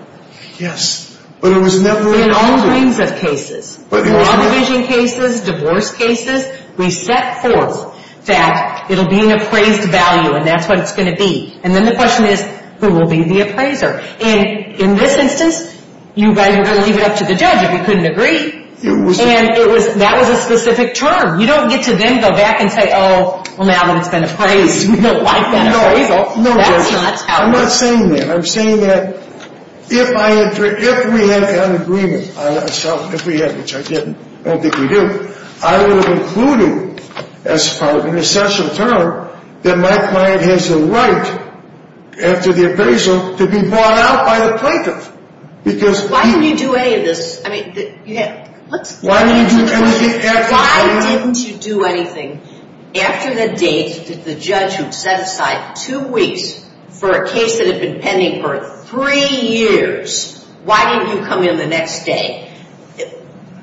Yes. But it was never... In all kinds of cases. But in all kinds of cases, divorce cases, we set forth that it'll be an appraised value. And that's what it's going to be. And then the question is, who will be the appraiser? And in this instance, you guys are going to leave it up to the judge. You couldn't agree. And that was a specific term. You don't get to then go back and say, oh, well, now it's been appraised. No. No. No, Judge. I'm not saying that. I'm saying that if we had an agreement, which I didn't. I don't think we did. I was including, as part of an essential term, that my client has a right after the appraisal to be brought out by a plaintiff. Why didn't you do any of this? I mean, you had... Why didn't you do anything? Why didn't you do anything? After the date, if the judge had set aside two weeks for a case that had been pending for three years, why didn't you come in the next day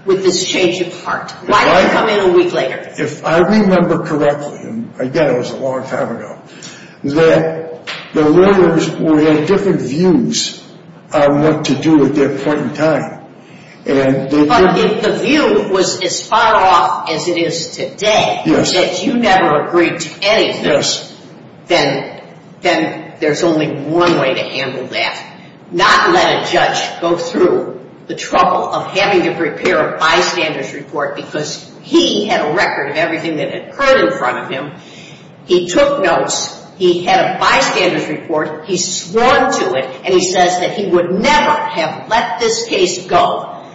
with this change of heart? Why didn't you come in a week later? If I remember correctly, and again, it was a long time ago, that the lawyers would have different views on what to do at that point in time. But if the view was as far off as it is today, that you never agreed to any of this, then there's only one way to handle that. Not let a judge go through the trouble of having to prepare a bystander's report because he had a record of everything that had occurred in front of him. He had a bystander's report. He swore to it. And he says that he would never have let this case go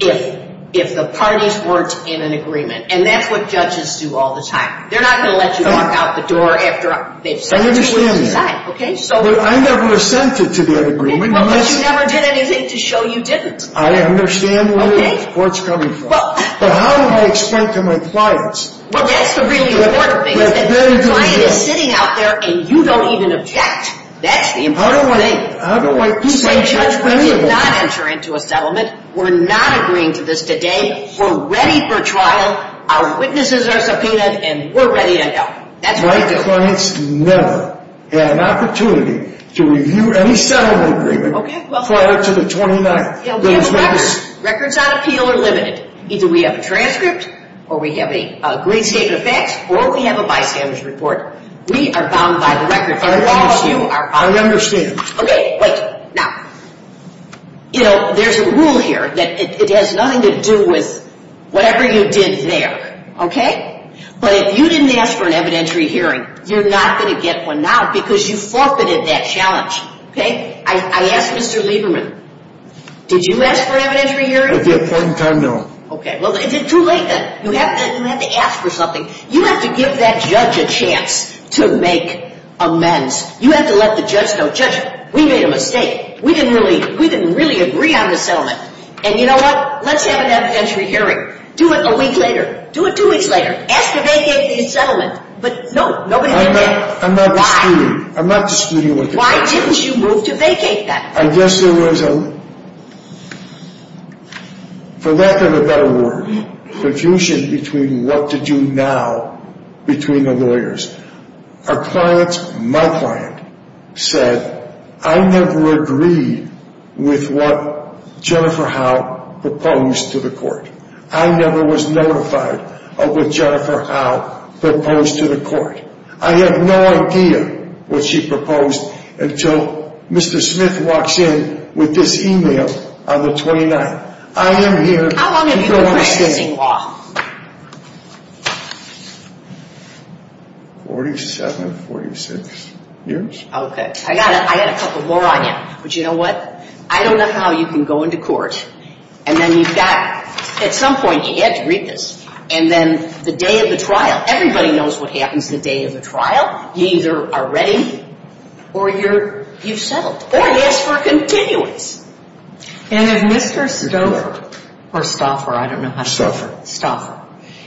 if the parties weren't in an agreement. And that's what judges do all the time. They're not going to let you walk out the door after a date. I understand that. But I never assented to the agreement. But you never did anything to show you didn't. I understand where it's coming from. But how do I explain it to my clients? Well, that's the really important thing. That client is sitting out there, and you don't even object. That's the important warning. The same judge will not enter into a settlement. We're not agreeing to this today. We're ready for trial. Our witnesses are subpoenaed, and we're ready to go. My clients never had an opportunity to review any settlement agreement prior to the 29th. Records on appeal are limited. Either we have a transcript, or we have a grave state of facts, or we have a bystander's report. We are bound by the records. I understand. All of you are bound by the records. I understand. Okay, wait. Now, you know, there's a rule here that it has nothing to do with whatever you did there. Okay? But if you didn't ask for an evidentiary hearing, you're not going to get one now because you forfeited that challenge. Okay? I asked Mr. Lieberman, did you ask for an evidentiary hearing? At the appointed time, no. Okay. Well, is it too late then? You have to ask for something. You have to give that judge a chance to make amends. You have to let the judge know, Judge, we made a mistake. We didn't really agree on the settlement. And you know what? Let's have an evidentiary hearing. Do it a week later. Do it two weeks later. Ask to vacate the settlement. But, no, nobody did that. I'm not disputing. Why? I'm not disputing with you. Why didn't you move to vacate that? I guess there was a, for lack of a better word, confusion between what to do now between the lawyers. A client, my client, said, I never agreed with what Jennifer Howe proposed to the court. I never was notified of what Jennifer Howe proposed to the court. I have no idea what she proposed until Mr. Smith walks in with this e-mail on the 29th. I am here. How long have you been presenting law? 47, 46 years. Okay. I got a couple more items. But you know what? I don't know how you can go into court and then you've got, at some point, you have to read this, and then the day of the trial, everybody knows what happens the day of the trial. You either are ready or you've settled. Or you're continuing. And if Mr. Stoffer, or Stoffer, I don't know how to spell it, Stoffer,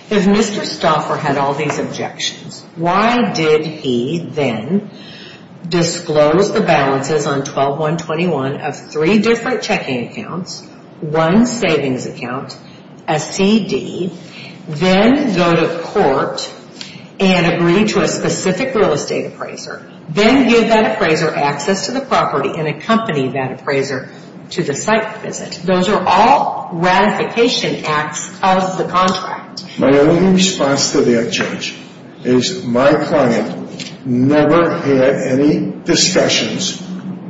if Mr. Stoffer had all these objections, why did he then disclose the balances on 12-121 of three different checking accounts, one savings account, a CD, then go to court and agree to a specific real estate appraiser, then give that appraiser access to the property and accompany that appraiser to the site visit? Those are all ratification acts of the contract. My only response to that, Judge, is my client never had any discussions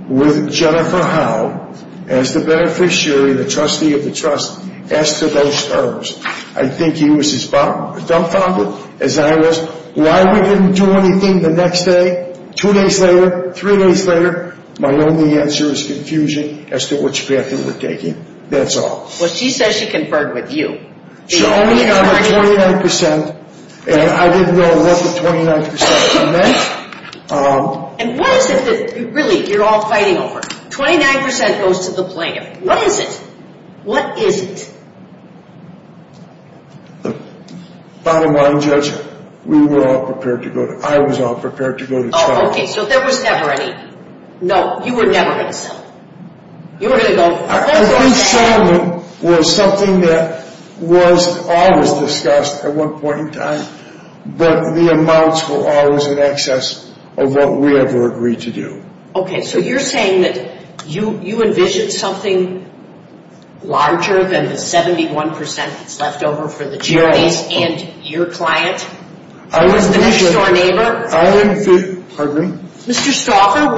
with Jennifer Howell as the beneficiary, the trustee of the trust, as to those terms. I think he was as dumbfounded as I was. Why didn't we do anything the next day? Two days later, three days later, my only answer is confusion as to which path he was taking. That's all. Well, she says she conferred with you. She only got 29%, and I didn't know what the 29% meant. And what is it that you're really all fighting over? 29% goes to the plaintiff. What is it? What is it? Bottom line, Judge, we were all prepared to go to trial. I was all prepared to go to trial. Oh, okay, so there was never any. No, you were never going to go. You were going to go. Our settlement was something that was always discussed at one point in time, but the amounts were always in excess of what we had to agree to do. Okay, so you're saying that you envisaged something larger than the 71% left over for the jury and your client, the next-door neighbor? I envisaged, pardon me? Mr. Stauffer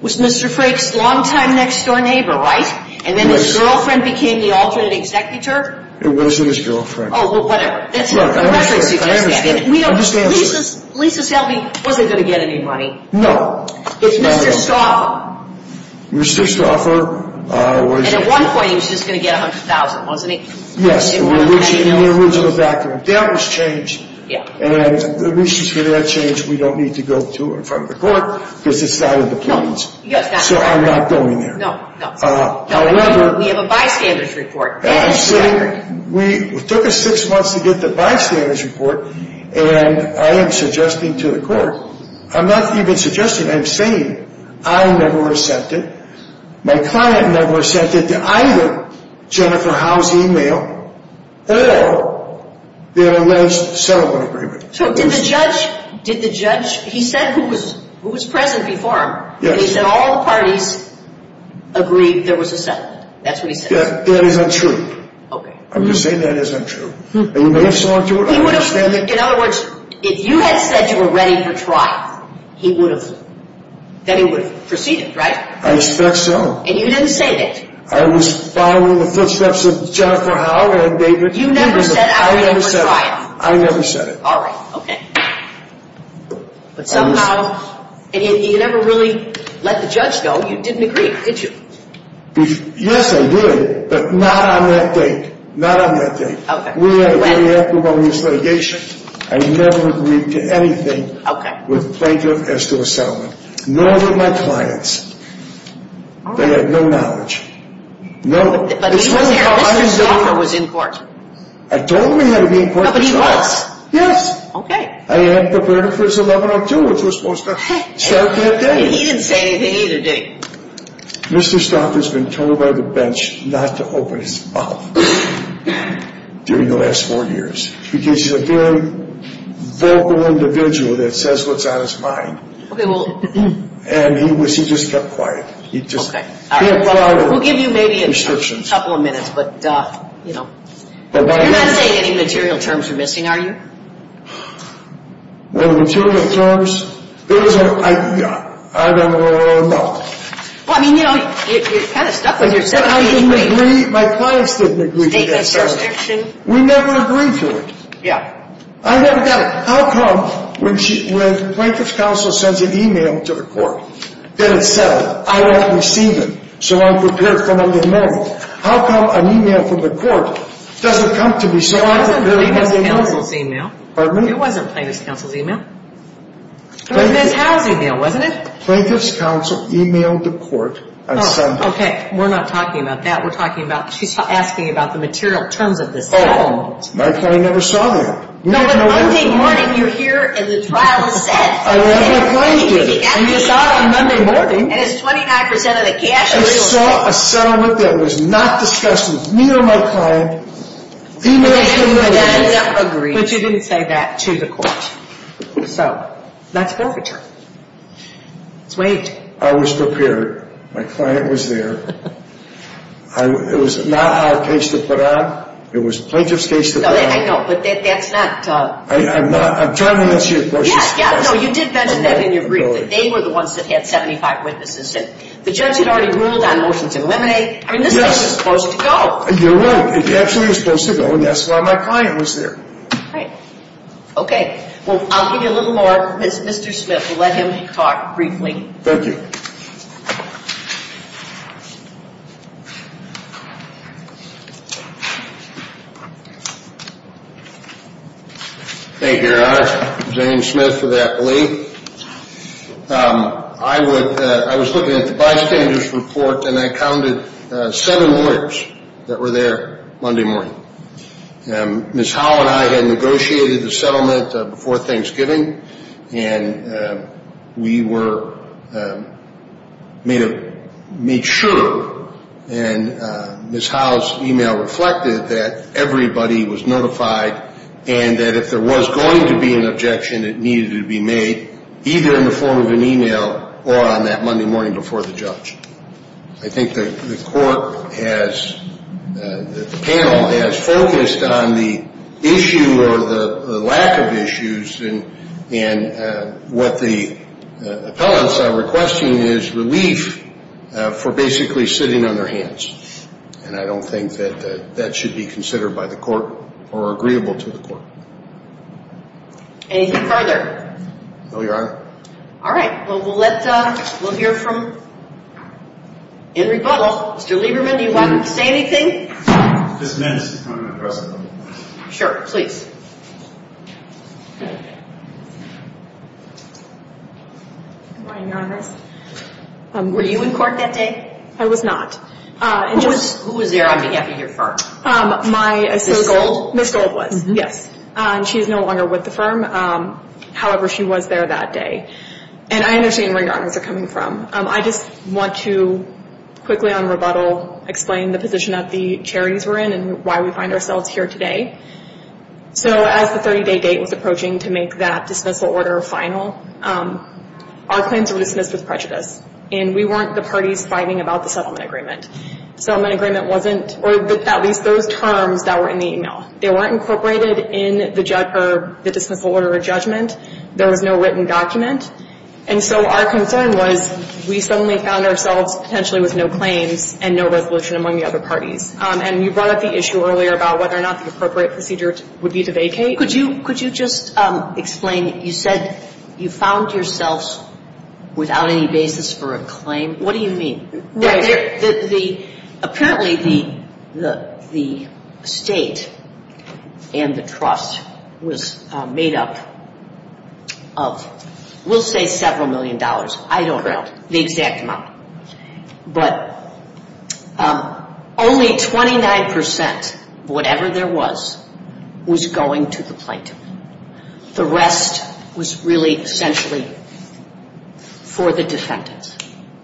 was Mr. Craig's longtime next-door neighbor, right? And then his girlfriend became the alternate executor? It wasn't his girlfriend. Oh, well, whatever. I understand. Lisa's helping. Were they going to get any money? No. It was Mr. Stauffer. Mr. Stauffer was. At one point, he was just going to get $100,000, wasn't he? Yes. It was in the background. That was changed. And the reasons for that change, we don't need to go to in front of the court because it's not in the plans. So I'm not going there. No, no. We have a bystander's report. Actually, it took us six months to get the bystander's report, and I am suggesting to the court. I'm not even suggesting, I'm saying I never accepted. My client never accepted either Jennifer Howe's e-mail or the arrest settlement agreement. So did the judge, he said who was present before him. Yes. He said all parties agreed there was a settlement. That's what he said. That is untrue. Okay. I'm just saying that is untrue. And you may have saw him do it. In other words, if you had said you were ready for trial, he would have, then he would have proceeded, right? I expect so. And you didn't say that. I was following the instructions of Jennifer Howe and David. You never said I was ready for trial. I never said it. All right. Okay. But somehow, and you never really let the judge know you didn't agree, did you? Yes, I did, but not on that date. Not on that date. Okay. We were waiting after one of these litigations. I never agreed to anything with Franklin as to a settlement. Nor did my clients. They had no knowledge. No. But he was in court. I told him he had to be in court. But he was. Yes. Okay. I had the verdict was 11-02, which was supposed to start on that day. He didn't say anything either, did he? Mr. Stocker's been told by the bench not to open his mouth during the last four years because he's a very vocal individual that says what's on his mind. Okay, well. And he just kept quiet. Okay. We'll give you maybe a couple of minutes, but, you know. You're not saying any material terms are missing, are you? Well, material terms, yeah. I don't know what I'm talking about. Well, I mean, you know, you're kind of stuck on your statement. I didn't agree. My clients didn't agree to that. We never agreed to it. Yeah. I never got it. How come when Plankett's counsel sends an e-mail to the court, then it says, I have received it, so I'm prepared for Monday night, how come an e-mail from the court doesn't come to me so I'm prepared for Monday night? It wasn't Plankett's counsel's e-mail. Pardon me? It wasn't Plankett's counsel's e-mail. It was a mentality deal, wasn't it? Plankett's counsel e-mailed the court. Okay, we're not talking about that. We're talking about asking about the material terms of this. Oh, my client never saw me. That was Monday morning when you were here and the trial was set. I never saw you. And you saw it on Monday morning. And it was 25% of the cash. She saw a settlement that was not discussed with me or my client. Do not say no. I did not agree. But you didn't say that to the court. So, that's not the term. Wait. I was prepared. It was not out of case to put on. It was such a case to put on. I know. But that's not. I'm not. I'm trying to answer your question. Yeah, yeah. No, you did mention that. I didn't agree with it. They were the ones that had 75 witnesses. The judge had already ruled on motions to eliminate. I mean, this was supposed to go. You're right. It actually was supposed to go. And that's why my client was here. Okay. Well, I'll give you a little more. Mr. Smith, you'll let him talk briefly. Thank you. Thank you, Your Honor. James Smith of Appalachian. I was looking at the bystanders' report, and I counted seven lawyers that were there Monday morning. Ms. Howell and I had negotiated the settlement before Thanksgiving, and we were made sure. And Ms. Howell's e-mail reflected that everybody was notified and that if there was going to be an objection, it needed to be made either in the form of an e-mail or on that Monday morning before the judge. I think the panel has focused on the issue or the lack of issues, and what the appellants are requesting is relief for basically sitting on their hands. And I don't think that that should be considered by the court or agreeable to the court. No, Your Honor. All right. Well, we'll hear from Mr. Lieberman. Mr. Lieberman, do you want to say anything? Sure, please. Your Honor, were you in court that day? I was not. Who was there on behalf of your firm? My assistant. Ms. Gold? Ms. Gold was, yes. She is no longer with the firm. However, she was there that day. And I understand where Your Honor is coming from. I just want to quickly on rebuttal explain the position that the charities were in and why we find ourselves here today. So as the 30-day date was approaching to make that dismissal order final, our plans were dismissed as prejudiced, and we weren't the parties fighting about the settlement agreement. The settlement agreement wasn't, or at least those terms that were in the e-mail, they weren't incorporated in the dismissal order of judgment. There was no written document. And so our concern was we suddenly found ourselves potentially with no claim and no resolution among the other parties. And you brought up the issue earlier about whether or not the appropriate procedures would be to vacate. Could you just explain? You said you found yourselves without any basis for a claim. What do you mean? Apparently the state and the trust was made up of, we'll say several million dollars. I don't know the exact amount. But only 29%, whatever there was, was going to the plaintiff. The rest was really essentially for the defendant.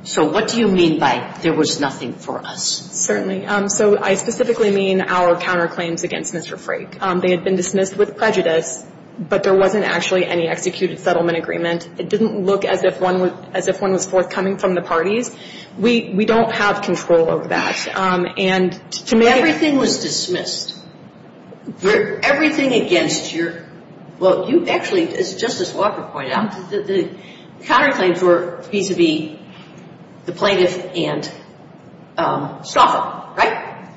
So what do you mean by there was nothing for us? Certainly. So I specifically mean our counterclaims against Mr. Frake. They had been dismissed with prejudice, but there wasn't actually any executed settlement agreement. It didn't look as if one was forthcoming from the parties. We don't have control over that. Everything was dismissed. Everything against your – well, you actually, as Justice Walker pointed out, the counterclaims were vis-à-vis the plaintiff and Saba, right?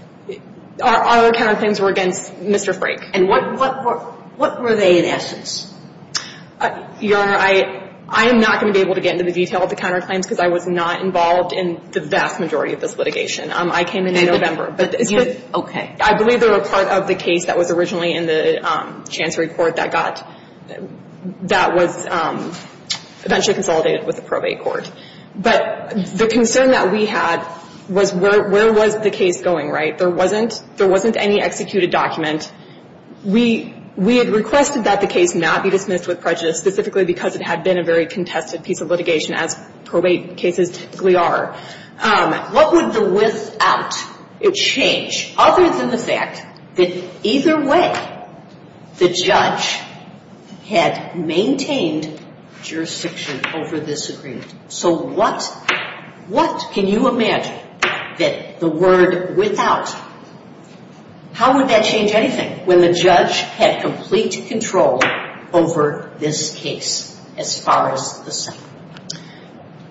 Our other counterclaims were against Mr. Frake. And what were they in essence? Your Honor, I am not going to be able to get into the detail of the counterclaims because I was not involved in the vast majority of this litigation. I came in in November. Okay. I believe they were part of the case that was originally in the Chancery Court that was eventually consolidated with the Probate Court. But the concern that we had was where was the case going, right? There wasn't any executed document. We had requested that the case not be dismissed with prejudice, specifically because it had been a very contested piece of litigation, as probate cases typically are. What would the without change other than the fact that either way the judge had maintained jurisdiction over this agreement? So what can you imagine that the word without – how would that change anything when the judge had complete control over this case as far as the second?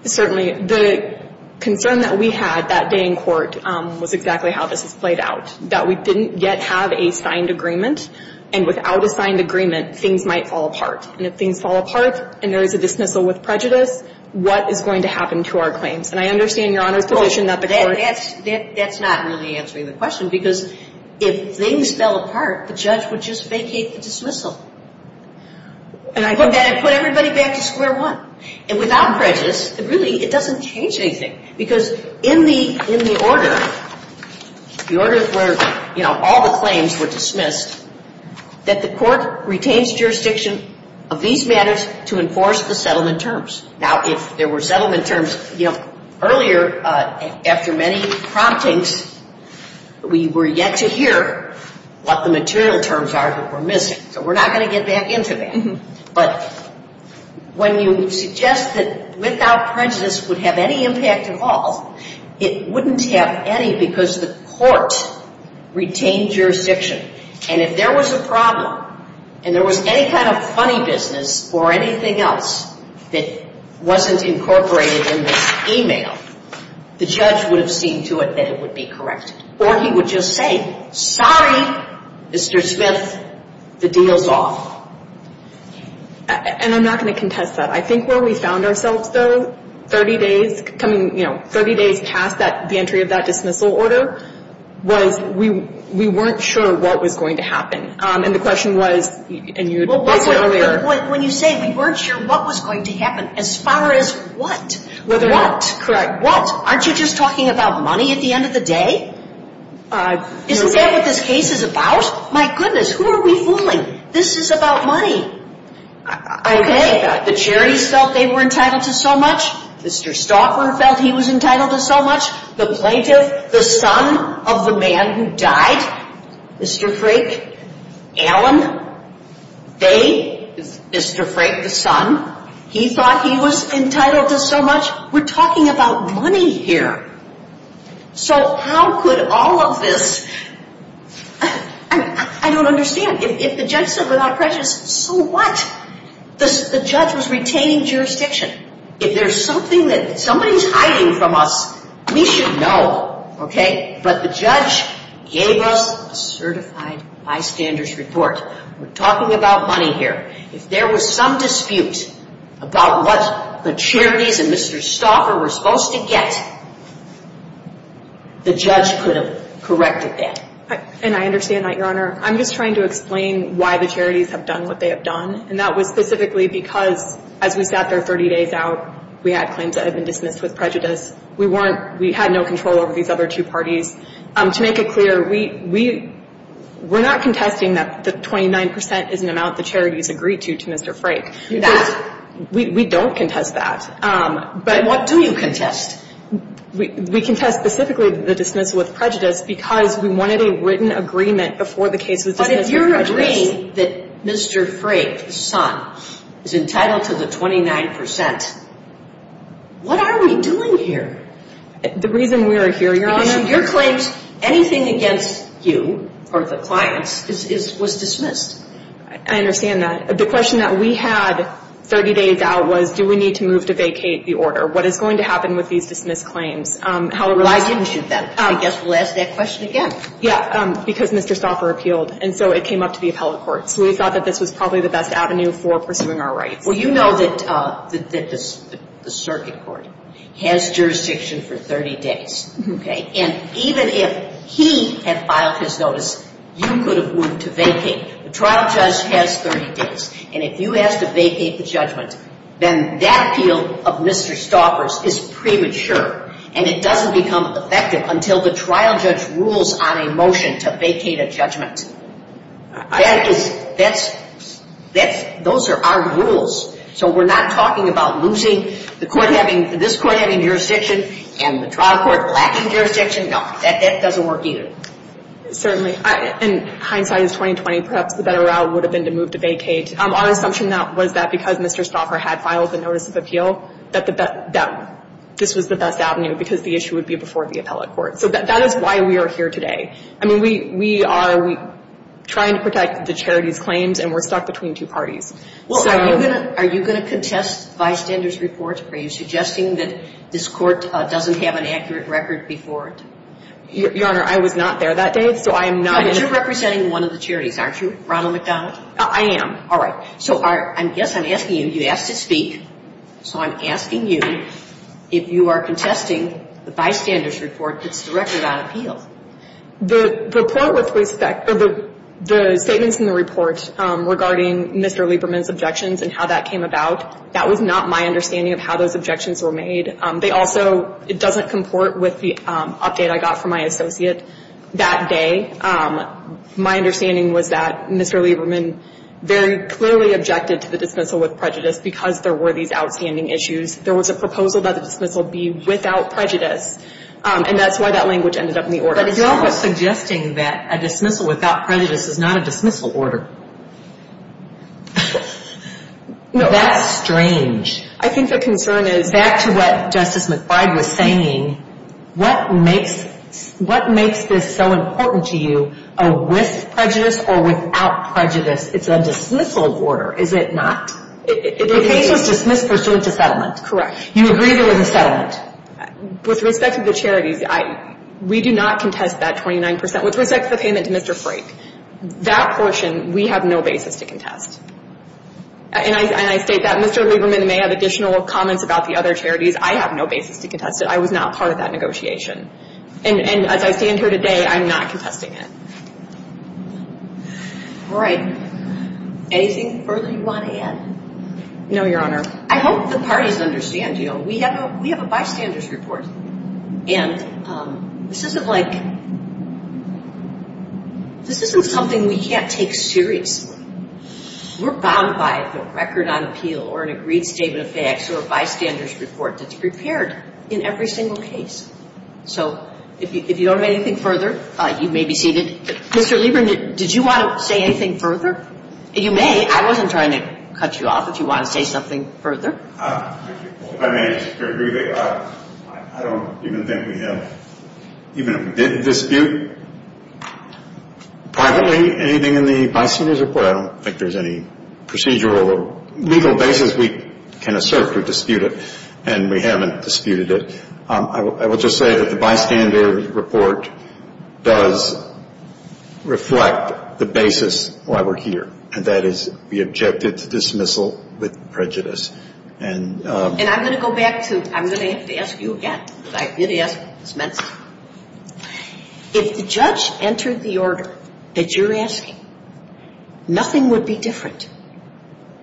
Certainly. The concern that we had that day in court was exactly how this is played out, that we didn't yet have a signed agreement, and without a signed agreement, things might fall apart. And if things fall apart and there is a dismissal with prejudice, what is going to happen to our claims? And I understand, Your Honor, that the court – That's not really answering the question because if things fell apart, the judge would just vacate the dismissal. And I put everybody back to square one. And without prejudice, it really doesn't change anything because in the order, the order where all the claims were dismissed, that the court retains jurisdiction of these matters to enforce the settlement terms. Now, if there were settlement terms earlier, after many promptings, we were yet to hear what the material terms are that were missing. We're not going to get that into me. But when you suggest that without prejudice would have any impact at all, it wouldn't have any because the court retained jurisdiction. And if there was a problem and there was any kind of funny business or anything else that wasn't incorporated in the email, the judge would have seen to it that it would be corrected. Or he would just say, sorry, Mr. Smith, the deal's off. And I'm not going to contest that. I think where we found ourselves, though, 30 days past the entry of that dismissal order, was we weren't sure what was going to happen. And the question was – When you say we weren't sure what was going to happen, as far as what? What? Correct. What? Aren't you just talking about money at the end of the day? Isn't that what this case is about? My goodness, who are we fooling? This is about money. Okay. The Jerrys felt they were entitled to so much. Mr. Stalker felt he was entitled to so much. The plaintiff, the son of the man who died, Mr. Frake, Allen, they, Mr. Frake, the son, he thought he was entitled to so much. We're talking about money here. So how could all of this – I don't understand. If the judge said without prejudice, so what? The judge was retaining jurisdiction. If there's something that somebody's hiding from us, we should know, okay? But the judge gave us a certified bystander's report. We're talking about money here. If there was some dispute about what the charities and Mr. Stalker were supposed to get, the judge could have corrected that. And I understand that, Your Honor. I'm just trying to explain why the charities have done what they have done, and that was specifically because as we got there 30 days out, we had claims that had been dismissed with prejudice. We weren't – we had no control over these other two parties. To make it clear, we're not contesting that the 29% is an amount the charities agree to, to Mr. Frake. We don't contest that. Then what do you contest? We contest specifically the dismissal with prejudice because we wanted a written agreement before the case was dismissed. But if you're agreeing that Mr. Frake, the son, is entitled to the 29%, what are we doing here? The reason we're here, Your Honor – Your claim, anything against you or the clients was dismissed. I understand that. The question that we had 30 days out was do we need to move to vacate the order? What is going to happen with these dismissed claims? Why didn't you then? I guess we'll ask that question again. Yeah, because Mr. Stalker appealed, and so it came up to the appellate court. We thought that this was probably the best avenue for pursuing our rights. Well, you know that the circuit court has jurisdiction for 30 days, and even if he had filed his notice, you could have moved to vacate. The trial judge has 30 days, and if you ask to vacate the judgment, then that appeal of Mr. Stalker's is premature, and it doesn't become effective until the trial judge rules on a motion to vacate a judgment. That is – those are our rules, so we're not talking about losing the court having – this court having jurisdiction and the trial court lacking jurisdiction. No, that doesn't work either. Certainly. In hindsight, in 2020, perhaps the better route would have been to move to vacate. Our assumption was that because Mr. Stalker had filed the notice of appeal that this was the best avenue because the issue would be before the appellate court. So that is why we are here today. I mean, we are trying to protect the charity claims, and we're stuck between two parties. Well, are you going to contest bystander's reports? Are you suggesting that this court doesn't have an accurate record before it? Your Honor, I was not there that day, so I am not going to – But you're representing one of the charities, aren't you, Ronald McDonald? I am. All right. So I guess I'm asking you, you asked to speak, so I'm asking you if you are contesting the bystander's report The statement in the report regarding Mr. Lieberman's objections and how that came about, that was not my understanding of how those objections were made. They also – it doesn't comport with the update I got from my associate that day. My understanding was that Mr. Lieberman very clearly objected to the dismissal with prejudice because there were these outstanding issues. There was a proposal that the dismissal be without prejudice, and that's why that language ended up in the order. But you're also suggesting that a dismissal without prejudice is not a dismissal order. That's strange. I think the concern is – Back to what Justice McFly was saying, what makes this so important to you, a with prejudice or without prejudice? It's a dismissal order, is it not? In the case of dismissal pursuits of settlement. Correct. You agree with the settlement. With respect to the charities, we do not contest that 29%. With respect to Mr. Frake, that portion, we have no basis to contest. And I state that. Mr. Lieberman may have additional comments about the other charities. I have no basis to contest it. I was not part of that negotiation. And as I stand here today, I'm not contesting it. All right. Anything further you want to add? No, Your Honor. I hope the parties understand. We have a bystander's report. And this isn't something we can't take seriously. We're bound by a record on appeal or an agreed statement of facts or a bystander's report that's prepared in every single case. So, if you don't have anything further, you may be seated. Mr. Lieberman, did you want to say anything further? You may. I wasn't trying to cut you off. Did you want to say something further? I don't even think we have even a dispute privately. Anything in the bystander's report? I don't think there's any procedural or legal basis we can assert to dispute it. And we haven't disputed it. I will just say that the bystander's report does reflect the basis why we're here. And that is we objected to dismissal with prejudice. And I'm going to go back to, I'm going to have to ask you again, because I did ask you. If the judge entered the order that you're asking, nothing would be different.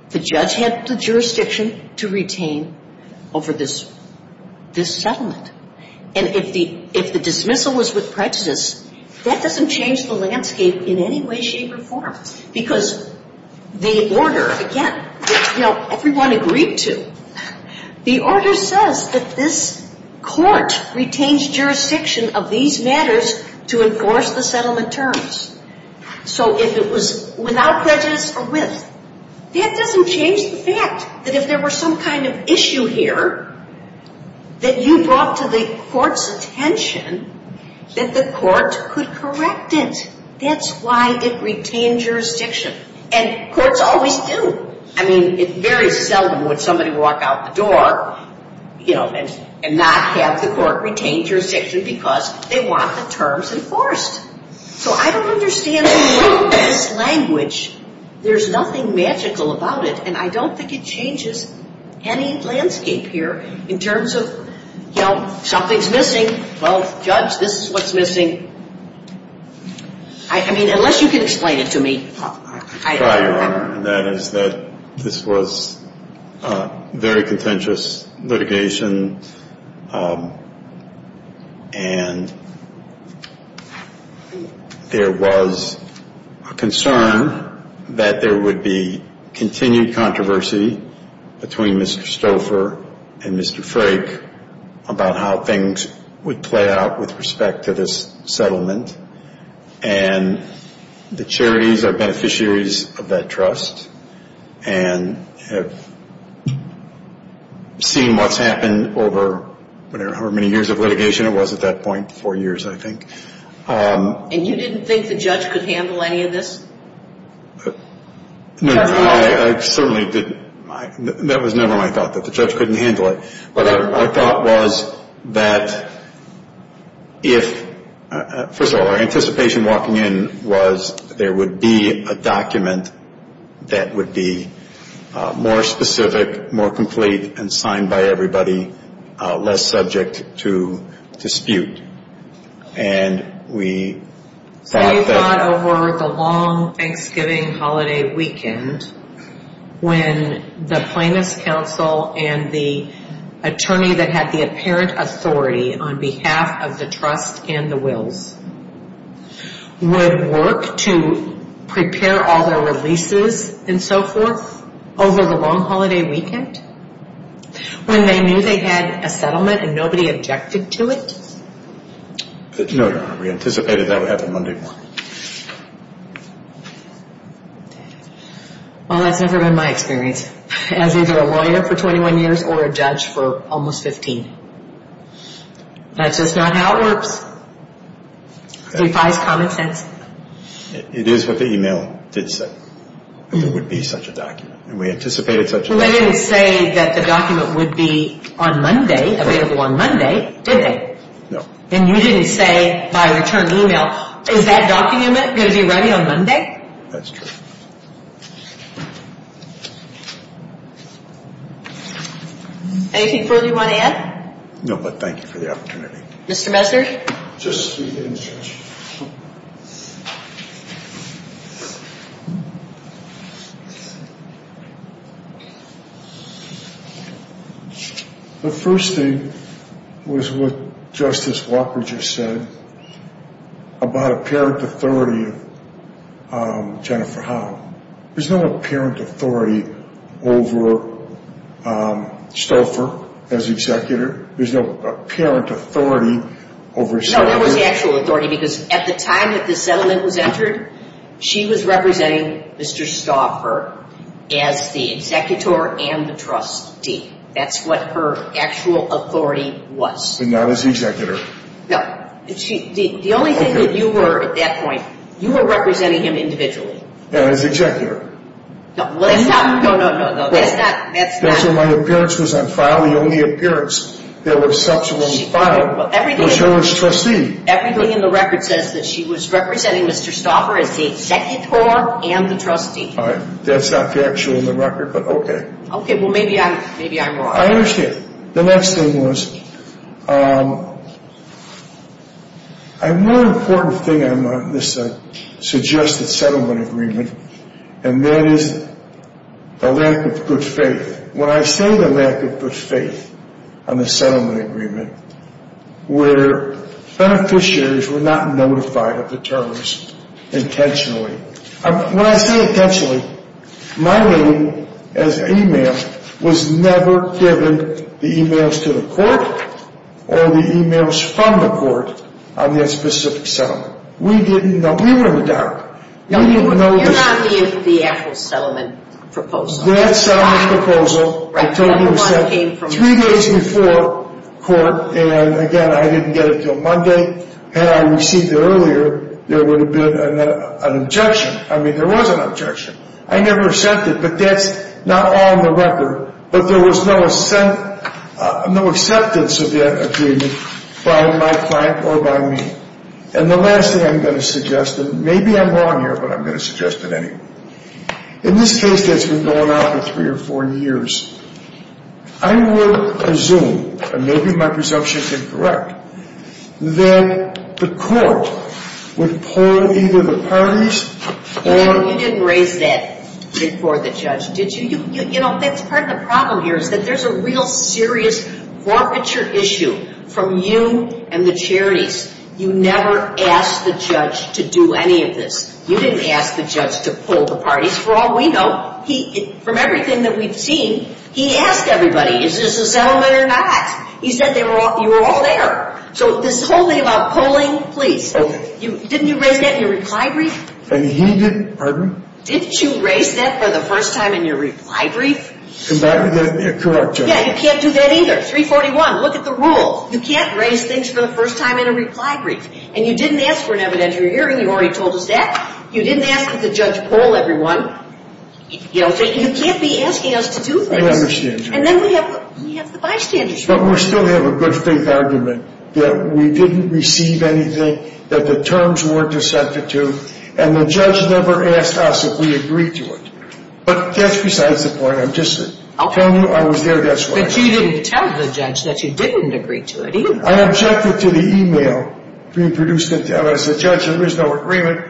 The judge has the jurisdiction to retain over this settlement. And if the dismissal was with prejudice, that doesn't change the landscape in any way, shape, or form. Because the order, again, everyone agreed to. The order says that this court retains jurisdiction of these matters to enforce the settlement terms. So if it was without prejudice or with, that doesn't change the fact that if there were some kind of issue here that you brought to the court's attention, that the court could correct it. That's why it retained jurisdiction. And courts always do. I mean, it's very seldom when somebody will walk out the door and not have the court retain jurisdiction because they want the terms enforced. So I don't understand any of that language. There's nothing magical about it. And I don't think it changes any landscape here in terms of, well, something's missing. Well, judge, this is what's missing. I mean, unless you can explain it to me. That is that this was very contentious litigation. And there was a concern that there would be continued controversy between Mr. Stouffer and Mr. Frake about how things would play out with respect to this settlement. And the charities are beneficiaries of that trust and have seen what's happened over however many years of litigation. It was at that point four years, I think. And you didn't think the judge could handle any of this? No, I certainly didn't. That was never my thought, that the judge couldn't handle it. But our thought was that if, first of all, our anticipation walking in was there would be a document that would be more specific, more complete, and signed by everybody, less subject to dispute. And we thought that... We thought over the long Thanksgiving holiday weekend when the plaintiff's counsel and the attorney that had the apparent authority on behalf of the trust and the wills would work to prepare all their releases and so forth over the long holiday weekend when they knew they had a settlement and nobody objected to it? No, we anticipated that would happen Monday morning. Well, that's never been my experience as either a lawyer for 21 years or a judge for almost 15. That's just not how it works. We find common sense. It is what the email did say, that there would be such a document. Somebody would say that the document would be available on Monday, didn't they? No. And you didn't say by return email, is that document going to be ready on Monday? That's true. Anything further you want to add? No, but thank you for the opportunity. Mr. Messersch? Just a few minutes. The first thing was what Justice Walker just said about apparent authority on Jennifer Holland. There's no apparent authority over Stauffer as executor. There's no apparent authority over Stauffer. No, there was actual authority because at the time that the settlement was entered, she was representing Mr. Stauffer. As the executor and the trustee. That's what her actual authority was. But not as executor. No. The only thing that you were, at that point, you were representing him individually. And as executor. No, no, no, no, no, no. That's not... That's not my appearance because I'm filing only appearance. There was such when we filed. But she was trustee. Everything in the record says that she was representing Mr. Stauffer as the executor and the trustee. That's not actually in the record, but okay. Okay. Well, maybe I'm wrong. I understand. The next thing was, one important thing I'm going to suggest in the settlement agreement, and that is the lack of good faith. When I say the lack of good faith on the settlement agreement, where beneficiaries were not notified of the terms intentionally. When I say intentionally, my name, as a man, was never given the emails to the court or the emails from the court on that specific settlement. We didn't know. We were in doubt. We didn't know. You're not meeting the actual settlement proposal. That's not my proposal. I told you this was three days before court, and again, I didn't get it until Monday. Had I received it earlier, there would have been an objection. I mean, there was an objection. I never sent it, but that's not all in the record. But there was no acceptance of that agreement by my client or by me. And the last thing I'm going to suggest, and maybe I'm wrong here, but I'm going to suggest it anyway. In this case that's been going on for three or four years, I would presume, and maybe my presumption is incorrect, that the court would pull either the parties or- You didn't raise that before the judge, did you? You know, that's part of the problem here is that there's a real serious forfeiture issue from you and the charities. You never asked the judge to do any of this. You didn't ask the judge to pull the parties. For all we know, from everything that we've seen, he asked everybody, is this a settlement or not? He said you were all there. So this whole thing about pulling, please. Didn't you raise that in your reply brief? He didn't, pardon me? Didn't you raise that for the first time in your reply brief? That would be incorrect. Yeah, you can't do that either. 341, look at the rule. You can't raise things for the first time in a reply brief. And you didn't ask for an evidentiary hearing, you already told us that. You didn't ask that the judge pull everyone. You can't be asking us to do that. I understand you. And then we have the bystanders. But we still have a good faith argument that we didn't receive anything, that the terms weren't accepted to, and the judge never asked us if we agreed to it. But that's besides the point. I'm just telling you I was there, that's all. But you didn't tell the judge that you didn't agree to it either. I objected to the e-mail. As a judge, there was no agreement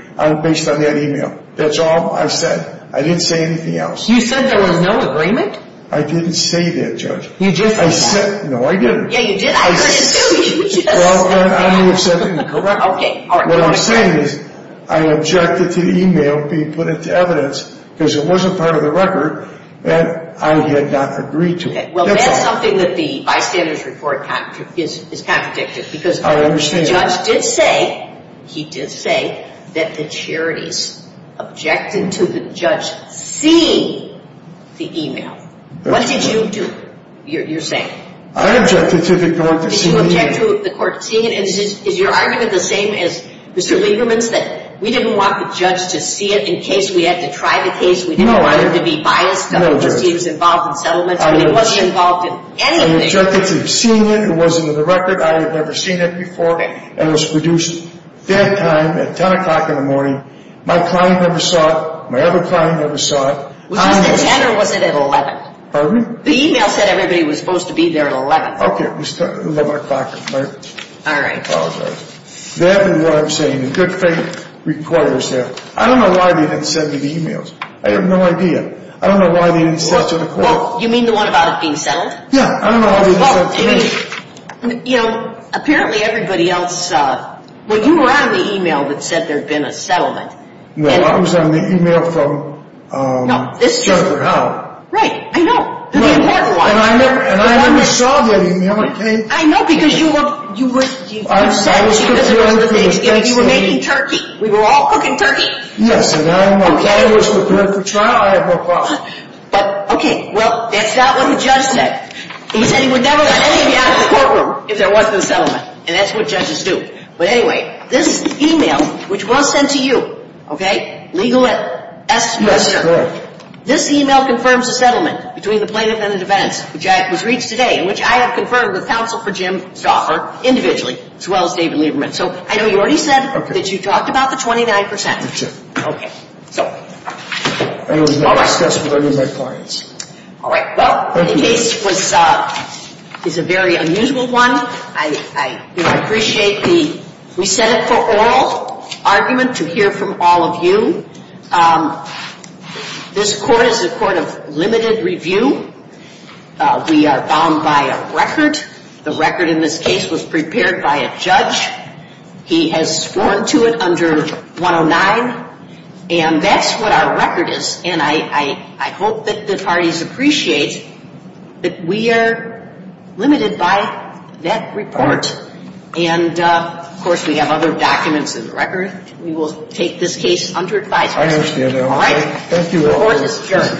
based on that e-mail. That's all I said. I didn't say anything else. You said there was no agreement? I didn't say that, Judge. You didn't say that? No, I didn't. Yeah, you did. I couldn't tell you. Well, I'm the assessment court. Okay. What I'm saying is I objected to the e-mail being put into evidence because it wasn't part of the record, and I had not agreed to it. Okay. Well, that's something that the bystanders report is counterintuitive because the judge did say, he did say, that the charities objected to the judge seeing the e-mail. What did you do? You're saying? I objected to the court seeing it. Did you object to the court seeing it? Is your argument the same as Mr. Lieberman's, that we didn't want the judge to see it in case we had to try the case? No. We didn't want there to be violence. No, Judge. No, Judge. He was involved in settlements. He wasn't involved in anything. I objected to seeing it. It wasn't in the record. I had never seen it before. Okay. That time at 10 o'clock in the morning, my client never saw it. My other client never saw it. Was it at 10 or was it at 11? Pardon me? The e-mail said everybody was supposed to be there at 11. Okay. It was 11 o'clock at night. All right. That is what I'm saying. Good faith requires that. I don't know why we didn't send the e-mails. I have no idea. I don't know why we didn't send the court. You mean the one about being settled? Yeah. I don't know why we didn't send the case. You know, apparently everybody else saw it. Well, you were on the e-mail that said there had been a settlement. No, I was on the e-mail from Jennifer Howard. Right. I know. And I never saw the e-mail. I know because you were cooking turkey. We were all cooking turkey. Yes, and I don't know why it was with Jennifer Howard at 10 o'clock. Okay. Well, that's not what the judge said. He said he would never let anybody out of the courtroom if there wasn't a settlement, and that's what judges do. But, anyway, this e-mail, which was sent to you, okay, legalized. Yes, sir. This e-mail confirms the settlement between the plaintiff and the defense, which was reached today, in which I have conferred with counsel for Jim Stoffer, individually, to L. David Lieberman. So I know you already said that you talked about the 29%. Yes, sir. Okay. So. It was not discussed with any of my clients. All right. Well, this case is a very unusual one. I appreciate the we-said-it-for-all argument to hear from all of you. This court is a court of limited review. We are bound by a record. The record in this case was prepared by a judge. He has sworn to it under 109, and that's what our record is. And I hope that the parties appreciate that we are limited by that report. All right. And, of course, we have other documents in the record. We will take this case under advisory. I understand that. All right. Thank you.